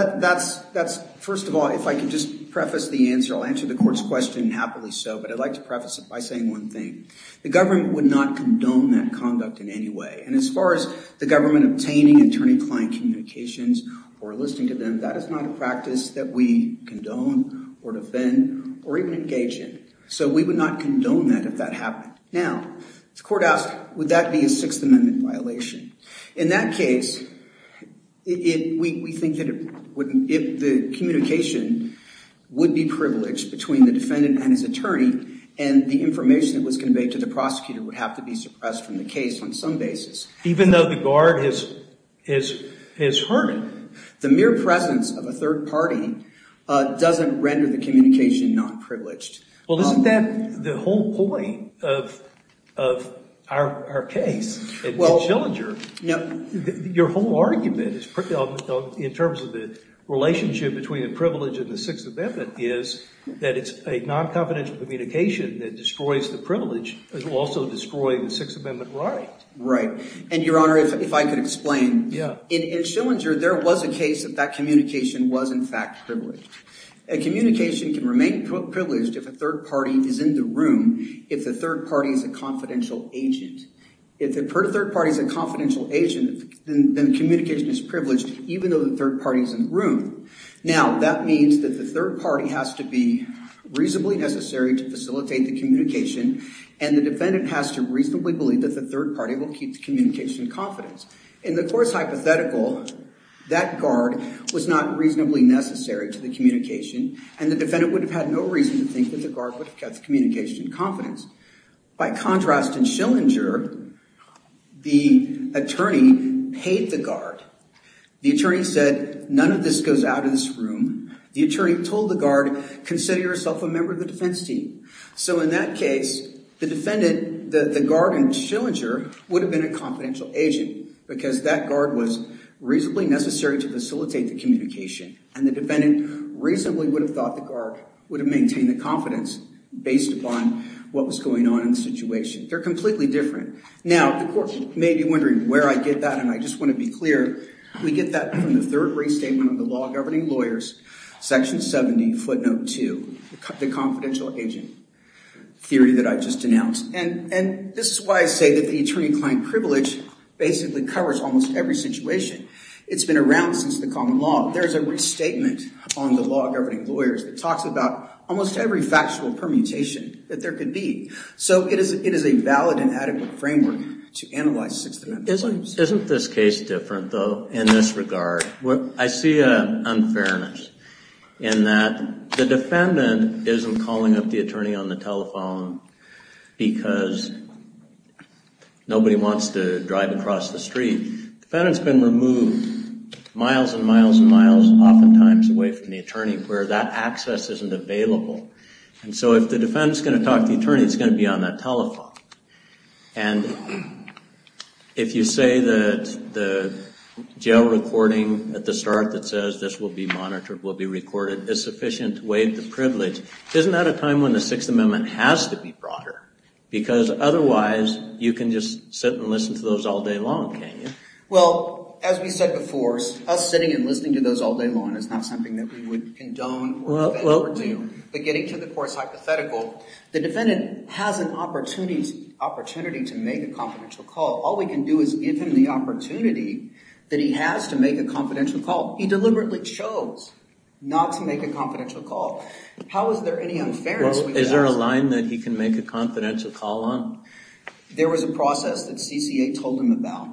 first of all, if I could just preface the answer, I'll answer the Court's question happily so, but I'd like to preface it by saying one thing. The government would not condone that conduct in any way. And as far as the government obtaining attorney-client communications or listening to them, that is not a practice that we condone or defend or even engage in. So we would not condone that if that happened. Now, the Court asked, would that be a Sixth Amendment violation? In that case, we think that if the communication would be privileged between the defendant and his attorney and the information that was conveyed to the prosecutor would have to be suppressed from the case on some basis. Even though the guard has heard it? The mere presence of a third party doesn't render the communication non-privileged. Well, isn't that the whole point of our case? Your whole argument in terms of the relationship between the privilege and the Sixth Amendment is that it's a non-confidential communication that destroys the privilege. It will also destroy the Sixth Amendment right. Right. And, Your Honor, if I could explain. Yeah. In Schillinger, there was a case that that communication was, in fact, privileged. A communication can remain privileged if a third party is in the room, if the third party is a confidential agent. If the third party is a confidential agent, then the communication is privileged even though the third party is in the room. Now, that means that the third party has to be reasonably necessary to facilitate the communication and the defendant has to reasonably believe that the third party will keep the communication confidence. In the court's hypothetical, that guard was not reasonably necessary to the communication and the defendant would have had no reason to think that the guard would have kept the communication confidence. By contrast, in Schillinger, the attorney paid the guard. The attorney said, none of this goes out of this room. The attorney told the guard, consider yourself a member of the defense team. So, in that case, the defendant, the guard in Schillinger would have been a confidential agent because that guard was reasonably necessary to facilitate the communication and the defendant reasonably would have thought the guard would have maintained the confidence based upon what was going on in the situation. They're completely different. Now, the court may be wondering where I get that and I just want to be clear. We get that from the third restatement of the Law Governing Lawyers, section 70, footnote 2, the confidential agent theory that I just announced. And this is why I say that the attorney-client privilege basically covers almost every situation. It's been around since the common law. There's a restatement on the Law Governing Lawyers that talks about almost every factual permutation that there could be. So, it is a valid and adequate framework to analyze Sixth Amendment claims. Isn't this case different, though, in this regard? I see an unfairness in that the defendant isn't calling up the attorney on the telephone because nobody wants to drive across the street. The defendant's been removed miles and miles and miles, oftentimes, away from the attorney where that access isn't available. And so, if the defendant's going to talk to the attorney, it's going to be on that telephone. And if you say that the jail recording at the start that says, this will be monitored, will be recorded, is sufficient to waive the privilege, isn't that a time when the Sixth Amendment has to be broader? Because otherwise, you can just sit and listen to those all day long, can't you? Well, as we said before, us sitting and listening to those all day long is not something that we would condone or defend or do, but getting to the course hypothetical, the defendant has an opportunity to make a confidential call. All we can do is give him the opportunity that he has to make a confidential call. He deliberately chose not to make a confidential call. How is there any unfairness with that? Well, is there a line that he can make a confidential call on? There was a process that CCA told him about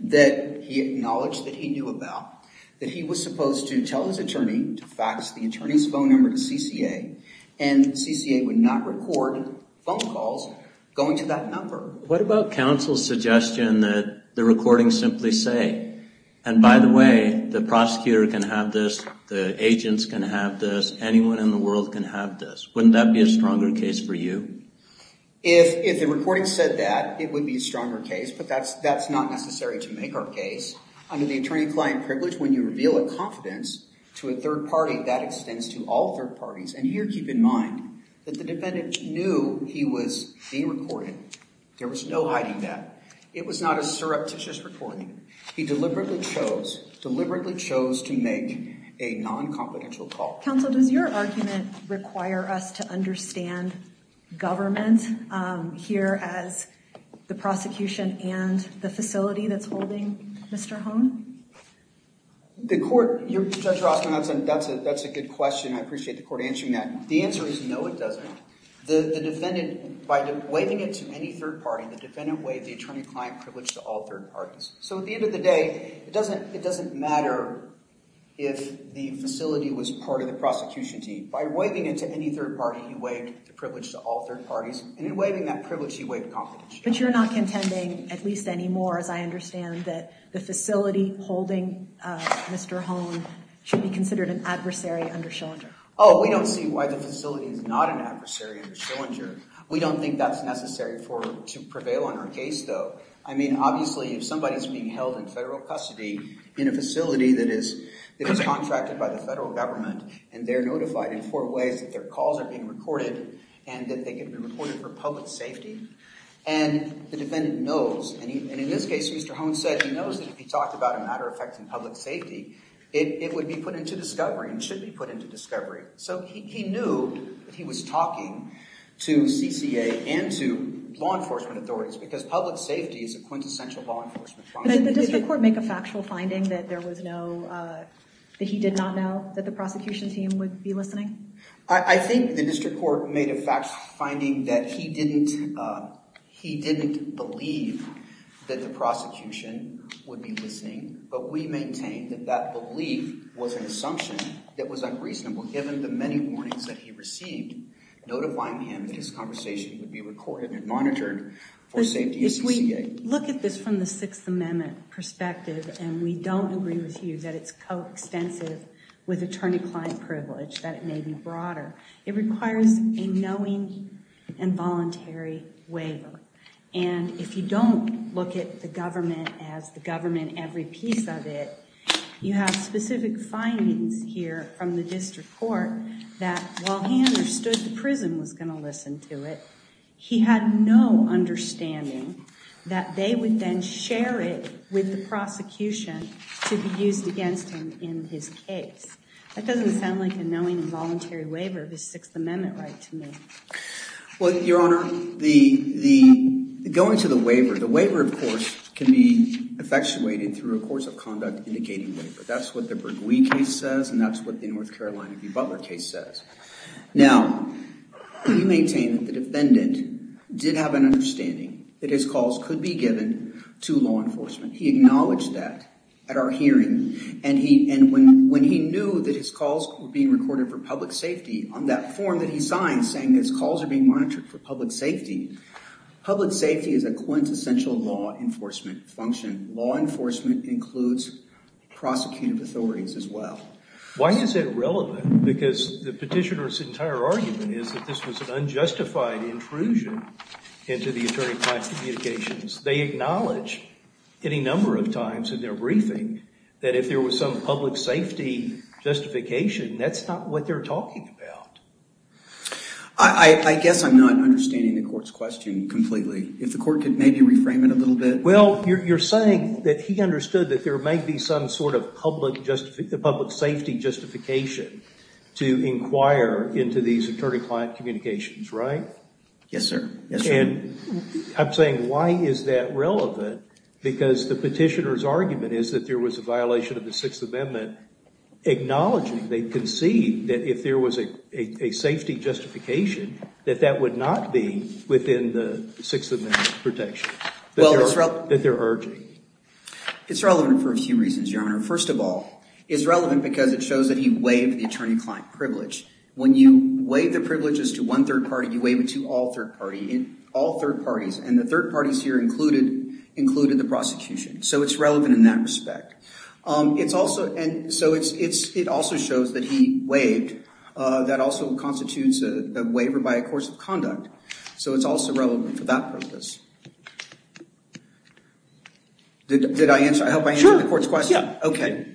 that he acknowledged that he knew about that he was supposed to tell his attorney to fax the attorney's phone number to CCA and CCA would not record phone calls going to that number. What about counsel's suggestion that the recording simply say, and by the way, the prosecutor can have this, the agents can have this, anyone in the world can have this. Wouldn't that be a stronger case for you? If the recording said that, it would be a stronger case, but that's not necessary to make our case. Under the attorney-client privilege, when you reveal a confidence to a third party, that extends to all third parties. And here, keep in mind that the defendant knew he was being recorded. There was no hiding that. It was not a surreptitious recording. He deliberately chose, deliberately chose to make a non-confidential call. Counsel, does your argument require us to understand government here as the prosecution and the facility that's holding Mr. Hone? The court, Judge Rostrom, that's a good question. I appreciate the court answering that. The answer is no, it doesn't. The defendant, by waiving it to any third party, the defendant waived the attorney-client privilege to all third parties. So at the end of the day, it doesn't matter if the facility was part of the prosecution team. By waiving it to any third party, he waived the privilege to all third parties. And in waiving that privilege, he waived confidentiality. But you're not contending, at least anymore, as I understand, that the facility holding Mr. Hone should be considered an adversary under Schillinger. Oh, we don't see why the facility is not an adversary under Schillinger. We don't think that's necessary to prevail on our case, though. I mean, obviously, if somebody is being held in federal custody in a facility that is contracted by the federal government and they're notified in four ways that their calls are being recorded and that they can be recorded for public safety, and the defendant knows, and in this case, Mr. Hone said he knows that if he talked about a matter affecting public safety, it would be put into discovery and should be put into discovery. So he knew that he was talking to CCA and to law enforcement authorities because public safety is a quintessential law enforcement problem. Did the district court make a factual finding that he did not know that the prosecution team would be listening? I think the district court made a fact finding that he didn't believe that the prosecution would be listening, but we maintain that that belief was an assumption that was unreasonable, given the many warnings that he received notifying him that his conversation would be recorded and monitored for safety at CCA. If we look at this from the Sixth Amendment perspective, and we don't agree with you that it's co-extensive with attorney-client privilege, that it may be broader, it requires a knowing and voluntary waiver. And if you don't look at the government as the government, every piece of it, you have specific findings here from the district court that while Hanner stood the prison was going to listen to it, he had no understanding that they would then share it with the prosecution to be used against him in his case. That doesn't sound like a knowing and voluntary waiver of his Sixth Amendment right to me. Well, Your Honor, going to the waiver, the waiver, of course, can be effectuated through a course of conduct indicating waiver. That's what the Bregui case says, and that's what the North Carolina v. Butler case says. Now, you maintain that the defendant did have an understanding that his calls could be given to law enforcement. He acknowledged that at our hearing, and when he knew that his calls were being recorded for public safety, on that form that he signed saying that his calls are being monitored for public safety, public safety is a quintessential law enforcement function. Law enforcement includes prosecutive authorities as well. Why is it relevant? Because the petitioner's entire argument is that this was an unjustified intrusion into the attorney class communications. They acknowledge any number of times in their briefing that if there was some public safety justification, that's not what they're talking about. I guess I'm not understanding the court's question completely. If the court could maybe reframe it a little bit. Well, you're saying that he understood that there may be some sort of public safety justification to inquire into these attorney-client communications, right? Yes, sir. And I'm saying, why is that relevant? Because the petitioner's argument is that there was a violation of the Sixth Amendment, acknowledging they concede that if there was a safety justification, that that would not be within the Sixth Amendment protections. That they're urging. It's relevant for a few reasons, Your Honor. First of all, it's relevant because it shows that he waived the attorney-client privilege. When you waive the privileges to one third party, you waive it to all third parties, and the third parties here included the prosecution. So it's relevant in that respect. And so it also shows that he waived. That also constitutes a waiver by a course of conduct. So it's also relevant for that purpose. Did I answer? I hope I answered the court's question. Sure. Yeah. Okay.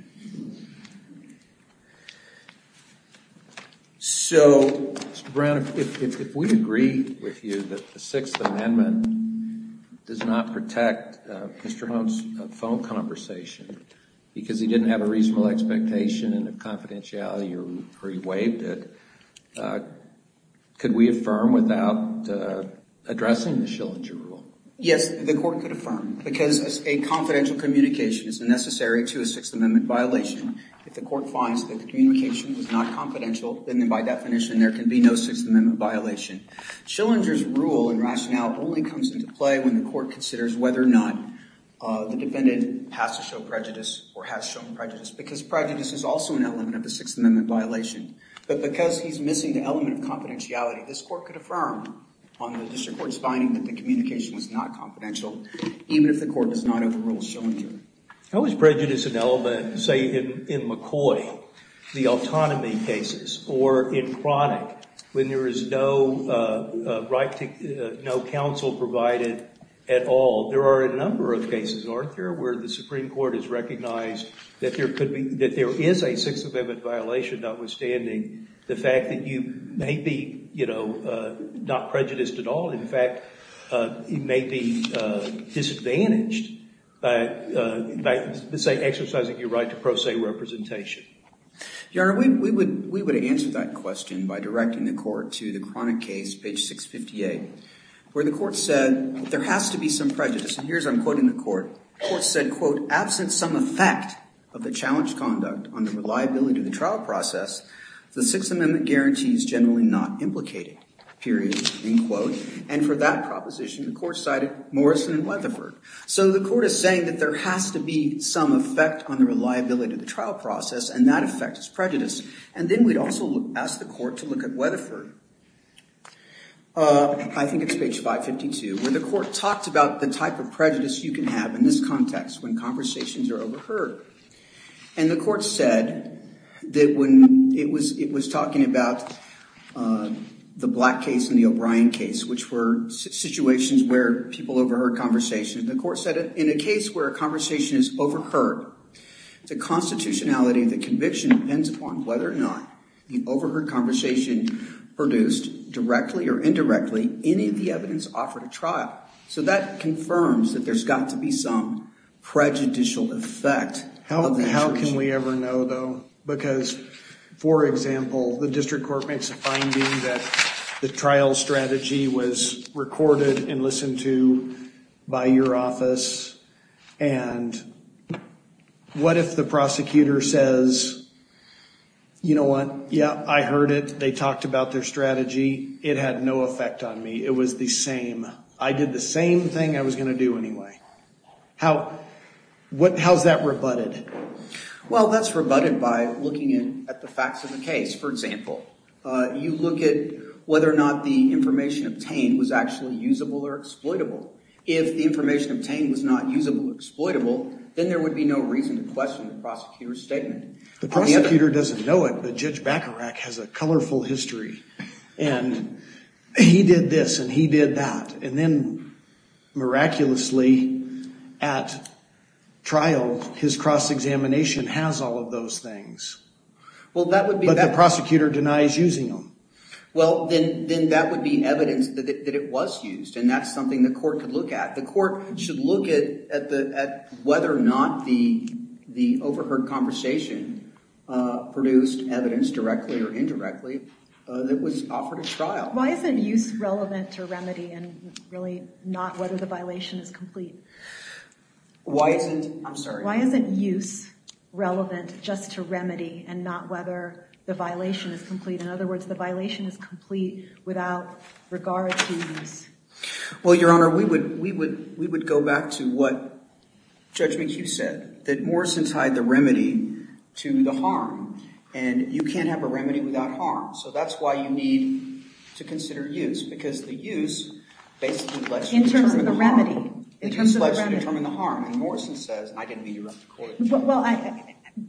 So, Mr. Brown, if we agree with you that the Sixth Amendment does not protect Mr. Hone's phone conversation because he didn't have a reasonable expectation and a confidentiality or he waived it, could we affirm without addressing the Schillinger rule? Yes, the court could affirm. Because a confidential communication is necessary to a Sixth Amendment violation. If the court finds that the communication was not confidential, then by definition there can be no Sixth Amendment violation. Schillinger's rule and rationale only comes into play when the court considers whether or not the defendant has to show prejudice or has shown prejudice. Because prejudice is also an element of the Sixth Amendment violation. But because he's missing the element of confidentiality, this court could affirm on the district court's finding that the communication was not confidential, even if the court does not overrule Schillinger. How is prejudice an element, say, in McCoy, the autonomy cases, or in Cronic, when there is no counsel provided at all? There are a number of cases, aren't there, where the Supreme Court has recognized that there is a Sixth Amendment violation, notwithstanding the fact that you may be, you know, not prejudiced at all. In fact, you may be disadvantaged by exercising your right to pro se representation. Your Honor, we would answer that question by directing the court to the Cronic case, page 658, where the court said there has to be some prejudice. And here's I'm quoting the court. The court said, quote, absent some effect of the challenge conduct on the reliability of the trial process, the Sixth Amendment guarantees generally not implicating, period, end quote. And for that proposition, the court cited Morrison and Weatherford. So the court is saying that there has to be some effect on the reliability of the trial process, and that effect is prejudice. And then we'd also ask the court to look at Weatherford. I think it's page 552, where the court talks about the type of prejudice you can have in this context when conversations are overheard. And the court said that when it was talking about the Black case and the O'Brien case, which were situations where people overheard conversations, the court said in a case where a conversation is overheard, the constitutionality of the conviction depends upon whether or not the overheard conversation produced directly or indirectly any of the evidence offered at trial. So that confirms that there's got to be some prejudicial effect. How can we ever know, though? Because, for example, the district court makes a finding that the trial strategy was recorded and listened to by your office. And what if the prosecutor says, you know what? Yeah, I heard it. They talked about their strategy. It had no effect on me. It was the same. I did the same thing I was going to do anyway. How is that rebutted? Well, that's rebutted by looking at the facts of the case. For example, you look at whether or not the information obtained was actually usable or exploitable. If the information obtained was not usable or exploitable, then there would be no reason to question the prosecutor's statement. The prosecutor doesn't know it, but Judge Bacharach has a colorful history. And he did this and he did that. And then, miraculously, at trial, his cross-examination has all of those things. But the prosecutor denies using them. Well, then that would be evidence that it was used. And that's something the court could look at. The court should look at whether or not the overheard conversation produced evidence, directly or indirectly, that was offered at trial. Why isn't use relevant to remedy and really not whether the violation is complete? I'm sorry. Why isn't use relevant just to remedy and not whether the violation is complete? In other words, the violation is complete without regard to use. Well, Your Honor, we would go back to what Judge McHugh said, that Morrison tied the remedy to the harm. And you can't have a remedy without harm. So that's why you need to consider use because the use basically lets you determine the harm. In terms of the remedy. The use lets you determine the harm. And Morrison says, and I didn't meet you at the court.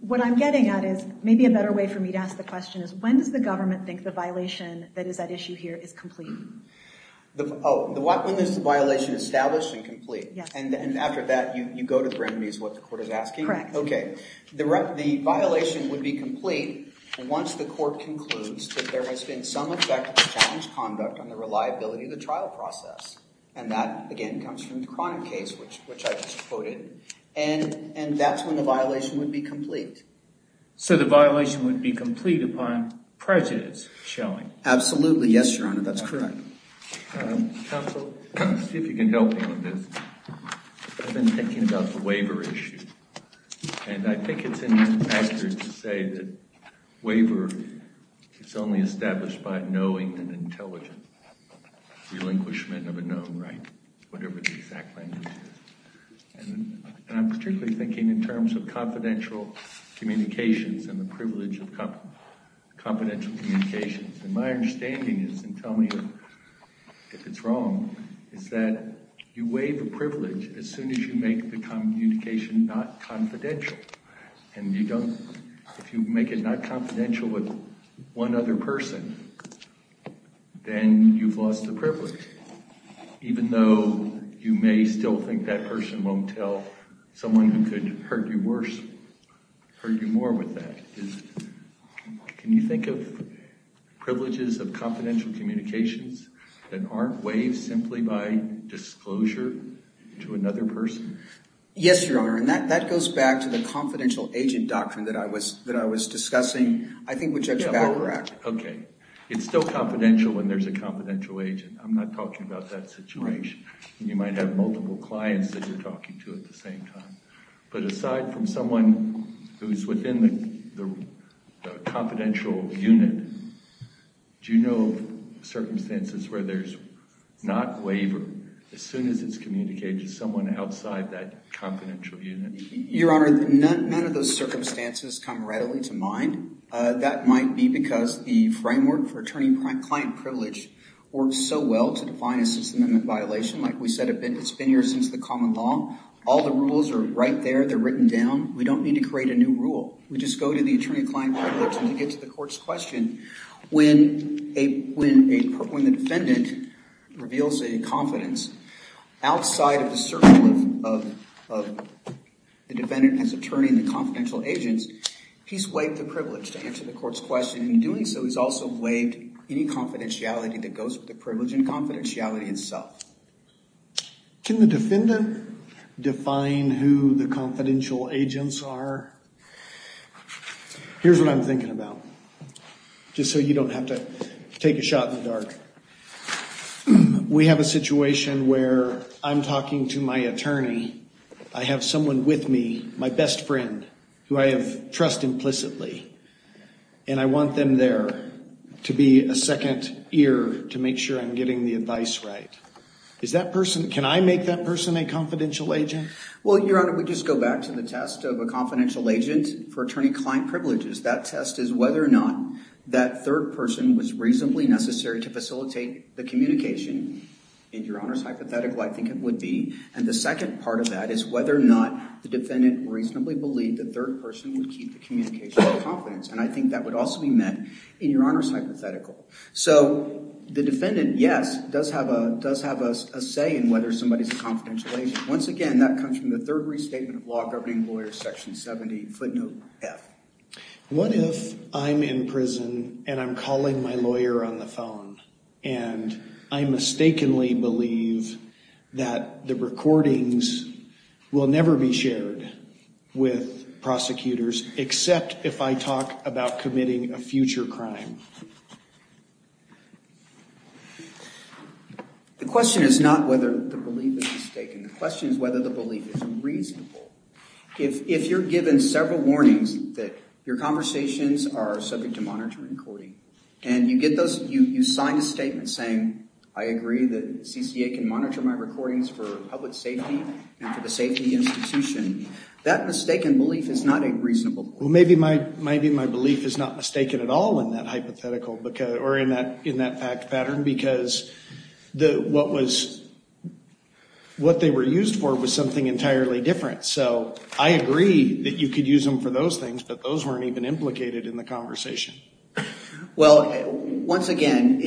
What I'm getting at is maybe a better way for me to ask the question is when does the government think the violation that is at issue here is complete? Oh, when is the violation established and complete? Yes. And after that, you go to the remedies, what the court is asking? Correct. Okay. The violation would be complete once the court concludes that there has been some effect of the challenge conduct on the reliability of the trial process. And that, again, comes from the chronic case, which I just quoted. And that's when the violation would be complete. So the violation would be complete upon prejudice showing? Absolutely. Yes, Your Honor. That's correct. Counsel, see if you can help me on this. I've been thinking about the waiver issue. And I think it's inaccurate to say that waiver is only established by knowing and intelligent relinquishment of a known right. Whatever the exact language is. And I'm particularly thinking in terms of confidential communications and the privilege of confidential communications. And my understanding is, and tell me if it's wrong, is that you waive a privilege as soon as you make the communication not confidential. And if you make it not confidential with one other person, then you've lost the privilege. Even though you may still think that person won't tell someone who could hurt you worse, hurt you more with that. Can you think of privileges of confidential communications that aren't waived simply by disclosure to another person? Yes, Your Honor. And that goes back to the confidential agent doctrine that I was discussing, I think, with Judge Baccarat. Okay. It's still confidential when there's a confidential agent. I'm not talking about that situation. You might have multiple clients that you're talking to at the same time. But aside from someone who's within the confidential unit, do you know of circumstances where there's not waiver as soon as it's communicated to someone outside that confidential unit? Your Honor, none of those circumstances come readily to mind. That might be because the framework for attorney-client privilege works so well to define a system of violation. Like we said, it's been here since the common law. All the rules are right there. They're written down. We don't need to create a new rule. We just go to the attorney-client privilege. And to get to the court's question, when the defendant reveals a confidence outside of the circle of the defendant as attorney and the confidential agents, he's waived the privilege to answer the court's question. In doing so, he's also waived any confidentiality that goes with the privilege and confidentiality itself. Can the defendant define who the confidential agents are? Here's what I'm thinking about, just so you don't have to take a shot in the dark. We have a situation where I'm talking to my attorney. I have someone with me, my best friend, who I have trust implicitly. And I want them there to be a second ear to make sure I'm getting the advice right. Can I make that person a confidential agent? Well, Your Honor, we just go back to the test of a confidential agent for attorney-client privileges. That test is whether or not that third person was reasonably necessary to facilitate the communication. In Your Honor's hypothetical, I think it would be. And the second part of that is whether or not the defendant reasonably believed the third person would keep the communication with confidence. And I think that would also be met in Your Honor's hypothetical. So the defendant, yes, does have a say in whether somebody's a confidential agent. Once again, that comes from the Third Restatement of Law Governing Lawyers, Section 70, footnote F. What if I'm in prison and I'm calling my lawyer on the phone, and I mistakenly believe that the recordings will never be shared with prosecutors, except if I talk about committing a future crime? The question is not whether the belief is mistaken. The question is whether the belief is reasonable. If you're given several warnings that your conversations are subject to monitoring and coding, and you get those, you sign a statement saying, I agree that CCA can monitor my recordings for public safety and for the safety institution, that mistaken belief is not a reasonable belief. Well, maybe my belief is not mistaken at all in that hypothetical or in that fact pattern, because what they were used for was something entirely different. So I agree that you could use them for those things, but those weren't even implicated in the conversation. Well, once again,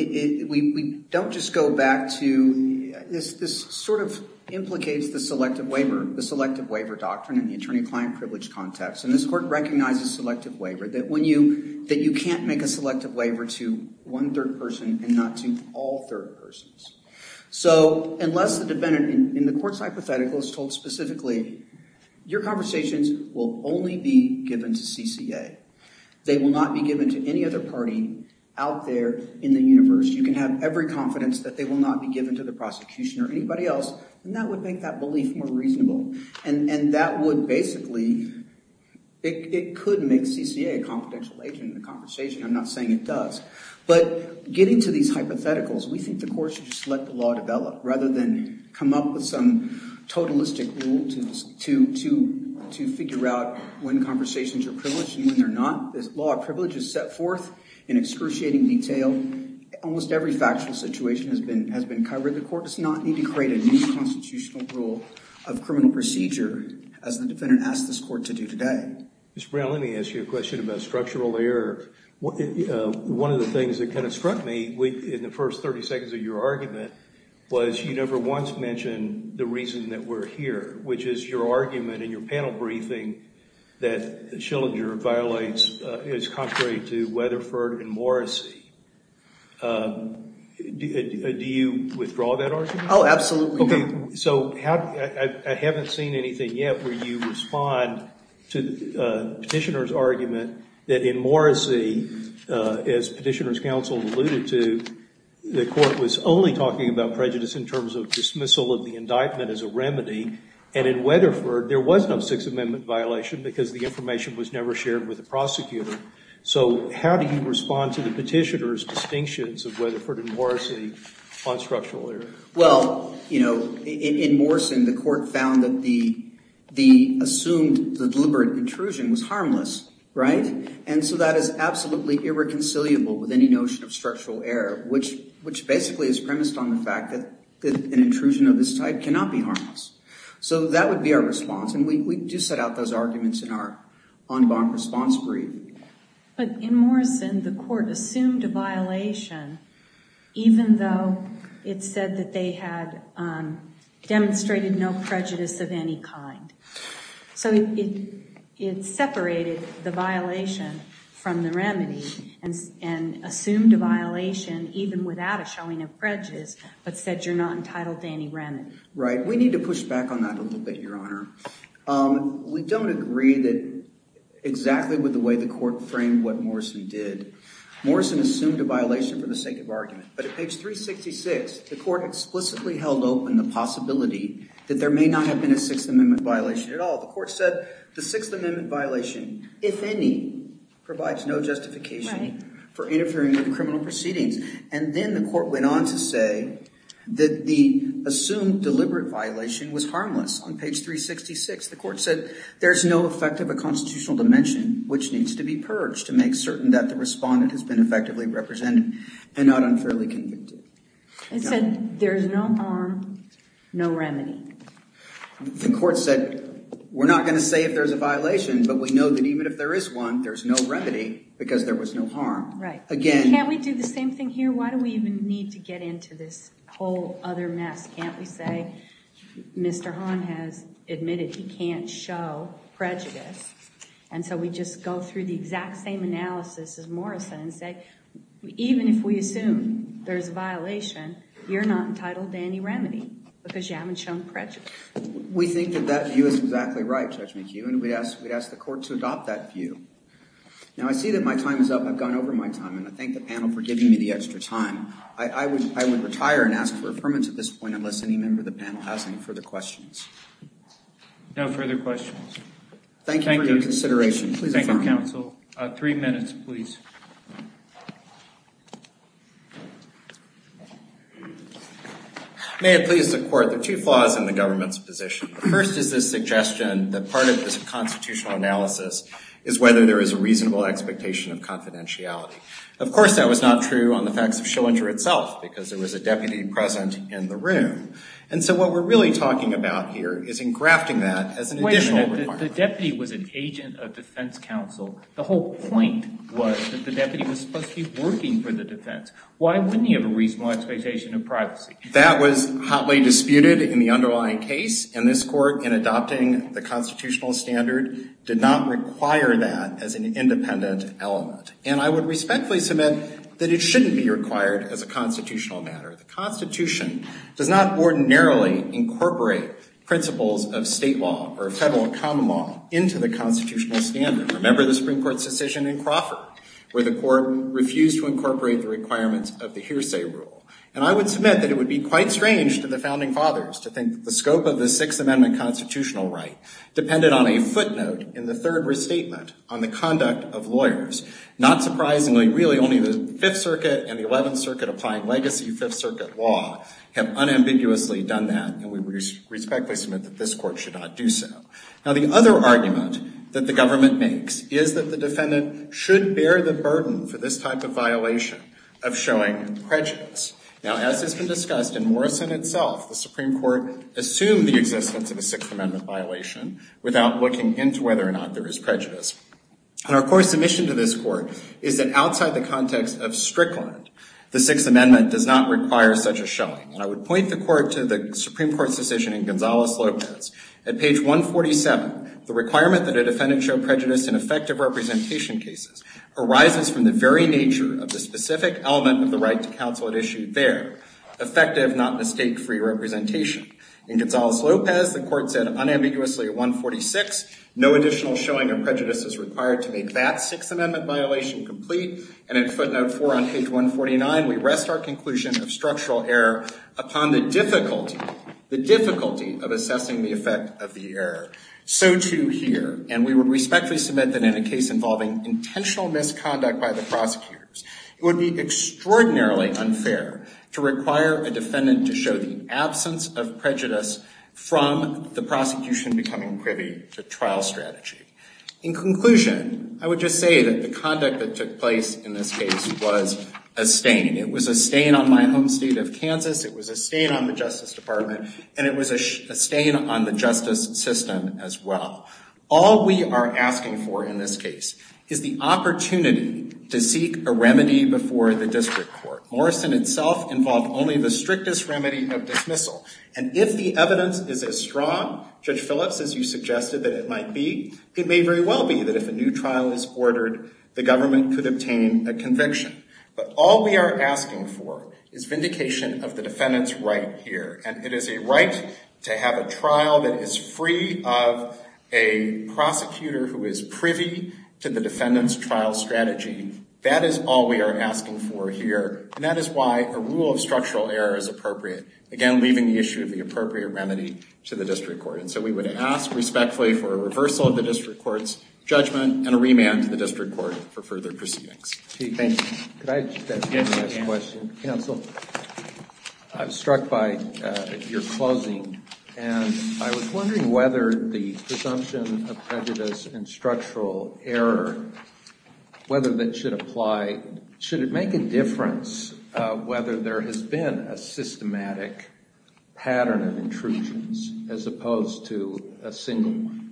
we don't just go back to this sort of implicates the selective waiver, the selective waiver doctrine in the attorney-client privilege context. And this Court recognizes selective waiver, that you can't make a selective waiver to one third person and not to all third persons. So unless the defendant in the Court's hypothetical is told specifically, your conversations will only be given to CCA. They will not be given to any other party out there in the universe. You can have every confidence that they will not be given to the prosecution or anybody else, and that would make that belief more reasonable. And that would basically, it could make CCA a confidential agent in the conversation. I'm not saying it does. But getting to these hypotheticals, we think the Court should just let the law develop rather than come up with some totalistic rule to figure out when conversations are privileged and when they're not. This law of privilege is set forth in excruciating detail. Almost every factual situation has been covered. The Court does not need to create a new constitutional rule of criminal procedure, as the defendant asked this Court to do today. Mr. Brown, let me ask you a question about structural error. One of the things that kind of struck me in the first 30 seconds of your argument was you never once mentioned the reason that we're here, which is your argument in your panel briefing that Schillinger violates is contrary to Weatherford and Morrissey. Do you withdraw that argument? Oh, absolutely. So I haven't seen anything yet where you respond to the petitioner's argument that in Morrissey, as Petitioner's Counsel alluded to, the Court was only talking about prejudice in terms of dismissal of the indictment as a remedy, and in Weatherford there was no Sixth Amendment violation because the information was never shared with the prosecutor. So how do you respond to the petitioner's distinctions of Weatherford and Morrissey on structural error? Well, you know, in Morrison, the Court found that the assumed deliberate intrusion was harmless, right? And so that is absolutely irreconcilable with any notion of structural error, which basically is premised on the fact that an intrusion of this type cannot be harmless. So that would be our response, and we do set out those arguments in our en banc response brief. But in Morrison, the Court assumed a violation even though it said that they had demonstrated no prejudice of any kind. So it separated the violation from the remedy and assumed a violation even without a showing of prejudice, but said you're not entitled to any remedy. Right. We need to push back on that a little bit, Your Honor. We don't agree exactly with the way the Court framed what Morrison did. Morrison assumed a violation for the sake of argument, but at page 366 the Court explicitly held open the possibility that there may not have been a Sixth Amendment violation at all. The Court said the Sixth Amendment violation, if any, provides no justification for interfering with criminal proceedings. And then the Court went on to say that the assumed deliberate violation was harmless on page 366. The Court said there's no effect of a constitutional dimension which needs to be purged to make certain that the respondent has been effectively represented and not unfairly convicted. It said there's no harm, no remedy. The Court said we're not going to say if there's a violation, but we know that even if there is one, there's no remedy because there was no harm. Right. Can't we do the same thing here? Why do we even need to get into this whole other mess? Can't we say Mr. Hahn has admitted he can't show prejudice? And so we just go through the exact same analysis as Morrison and say, even if we assume there's a violation, you're not entitled to any remedy because you haven't shown prejudice. We think that that view is exactly right, Judge McHugh, and we'd ask the Court to adopt that view. Now, I see that my time is up. I've gone over my time, and I thank the panel for giving me the extra time. I would retire and ask for affirmance at this point unless any member of the panel has any further questions. No further questions. Thank you for your consideration. Thank you, counsel. Three minutes, please. May it please the Court, there are two flaws in the government's position. First is the suggestion that part of this constitutional analysis is whether there is a reasonable expectation of confidentiality. Of course, that was not true on the facts of Schillinger itself because there was a deputy present in the room. And so what we're really talking about here is engrafting that as an additional requirement. Wait a minute. The deputy was an agent of defense counsel. The whole point was that the deputy was supposed to be working for the defense. Why wouldn't he have a reasonable expectation of privacy? That was hotly disputed in the underlying case, and this Court, in adopting the constitutional standard, did not require that as an independent element. And I would respectfully submit that it shouldn't be required as a constitutional matter. The Constitution does not ordinarily incorporate principles of state law or federal common law into the constitutional standard. Remember the Supreme Court's decision in Crawford where the Court refused to incorporate the requirements of the hearsay rule. And I would submit that it would be quite strange to the founding fathers to think that the scope of the Sixth Amendment constitutional right depended on a footnote in the third restatement on the conduct of lawyers. Not surprisingly, really, only the Fifth Circuit and the Eleventh Circuit applying legacy Fifth Circuit law have unambiguously done that, and we respectfully submit that this Court should not do so. Now, the other argument that the government makes is that the defendant should bear the burden for this type of violation of showing prejudice. Now, as has been discussed in Morrison itself, the Supreme Court assumed the existence of a Sixth Amendment violation without looking into whether or not there is prejudice. And our core submission to this Court is that outside the context of Strickland, the Sixth Amendment does not require such a showing. And I would point the Court to the Supreme Court's decision in Gonzales-Lopez. At page 147, the requirement that a defendant show prejudice in effective representation cases arises from the very nature of the specific element of the right to counsel at issue there. Effective, not mistake-free representation. In Gonzales-Lopez, the Court said unambiguously at 146, no additional showing of prejudice is required to make that Sixth Amendment violation complete. And in footnote 4 on page 149, we rest our conclusion of structural error upon the difficulty, the difficulty of assessing the effect of the error. So, too, here. And we would respectfully submit that in a case involving intentional misconduct by the prosecutors, it would be extraordinarily unfair to require a defendant to show the absence of prejudice from the prosecution becoming privy to trial strategy. In conclusion, I would just say that the conduct that took place in this case was a stain. It was a stain on my home state of Kansas, it was a stain on the Justice Department, and it was a stain on the justice system as well. All we are asking for in this case is the opportunity to seek a remedy before the district court. Morrison itself involved only the strictest remedy of dismissal. And if the evidence is as strong, Judge Phillips, as you suggested that it might be, it may very well be that if a new trial is ordered, the government could obtain a conviction. But all we are asking for is vindication of the defendant's right here. And it is a right to have a trial that is free of a prosecutor who is privy to the defendant's trial strategy. That is all we are asking for here. And that is why a rule of structural error is appropriate, again, leaving the issue of the appropriate remedy to the district court. And so we would ask respectfully for a reversal of the district court's judgment and a remand to the district court for further proceedings. Thank you. Could I just ask one last question? Counsel? I was struck by your closing, and I was wondering whether the presumption of prejudice and structural error, whether that should apply, should it make a difference whether there has been a systematic pattern of intrusions as opposed to a single one?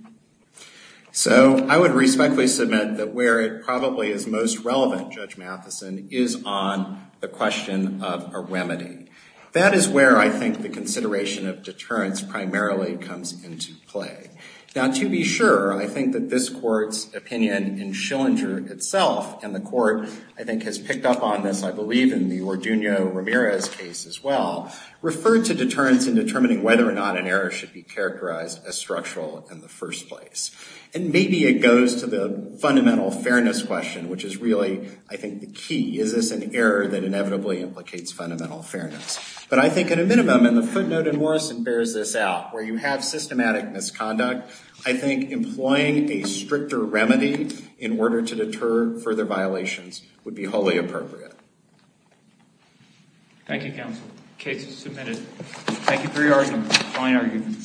So I would respectfully submit that where it probably is most relevant, Judge Matheson, is on the question of a remedy. That is where I think the consideration of deterrence primarily comes into play. Now, to be sure, I think that this Court's opinion in Schillinger itself, and the Court, I think, has picked up on this, I believe, in the Orduno-Ramirez case as well, referred to deterrence in determining whether or not an error should be characterized as structural in the first place. And maybe it goes to the fundamental fairness question, which is really, I think, the key. Is this an error that inevitably implicates fundamental fairness? But I think at a minimum, and the footnote in Morrison bears this out, where you have systematic misconduct, I think employing a stricter remedy in order to deter further violations would be wholly appropriate. Thank you, Counsel. Case is submitted. Thank you for your argument. Fine argument.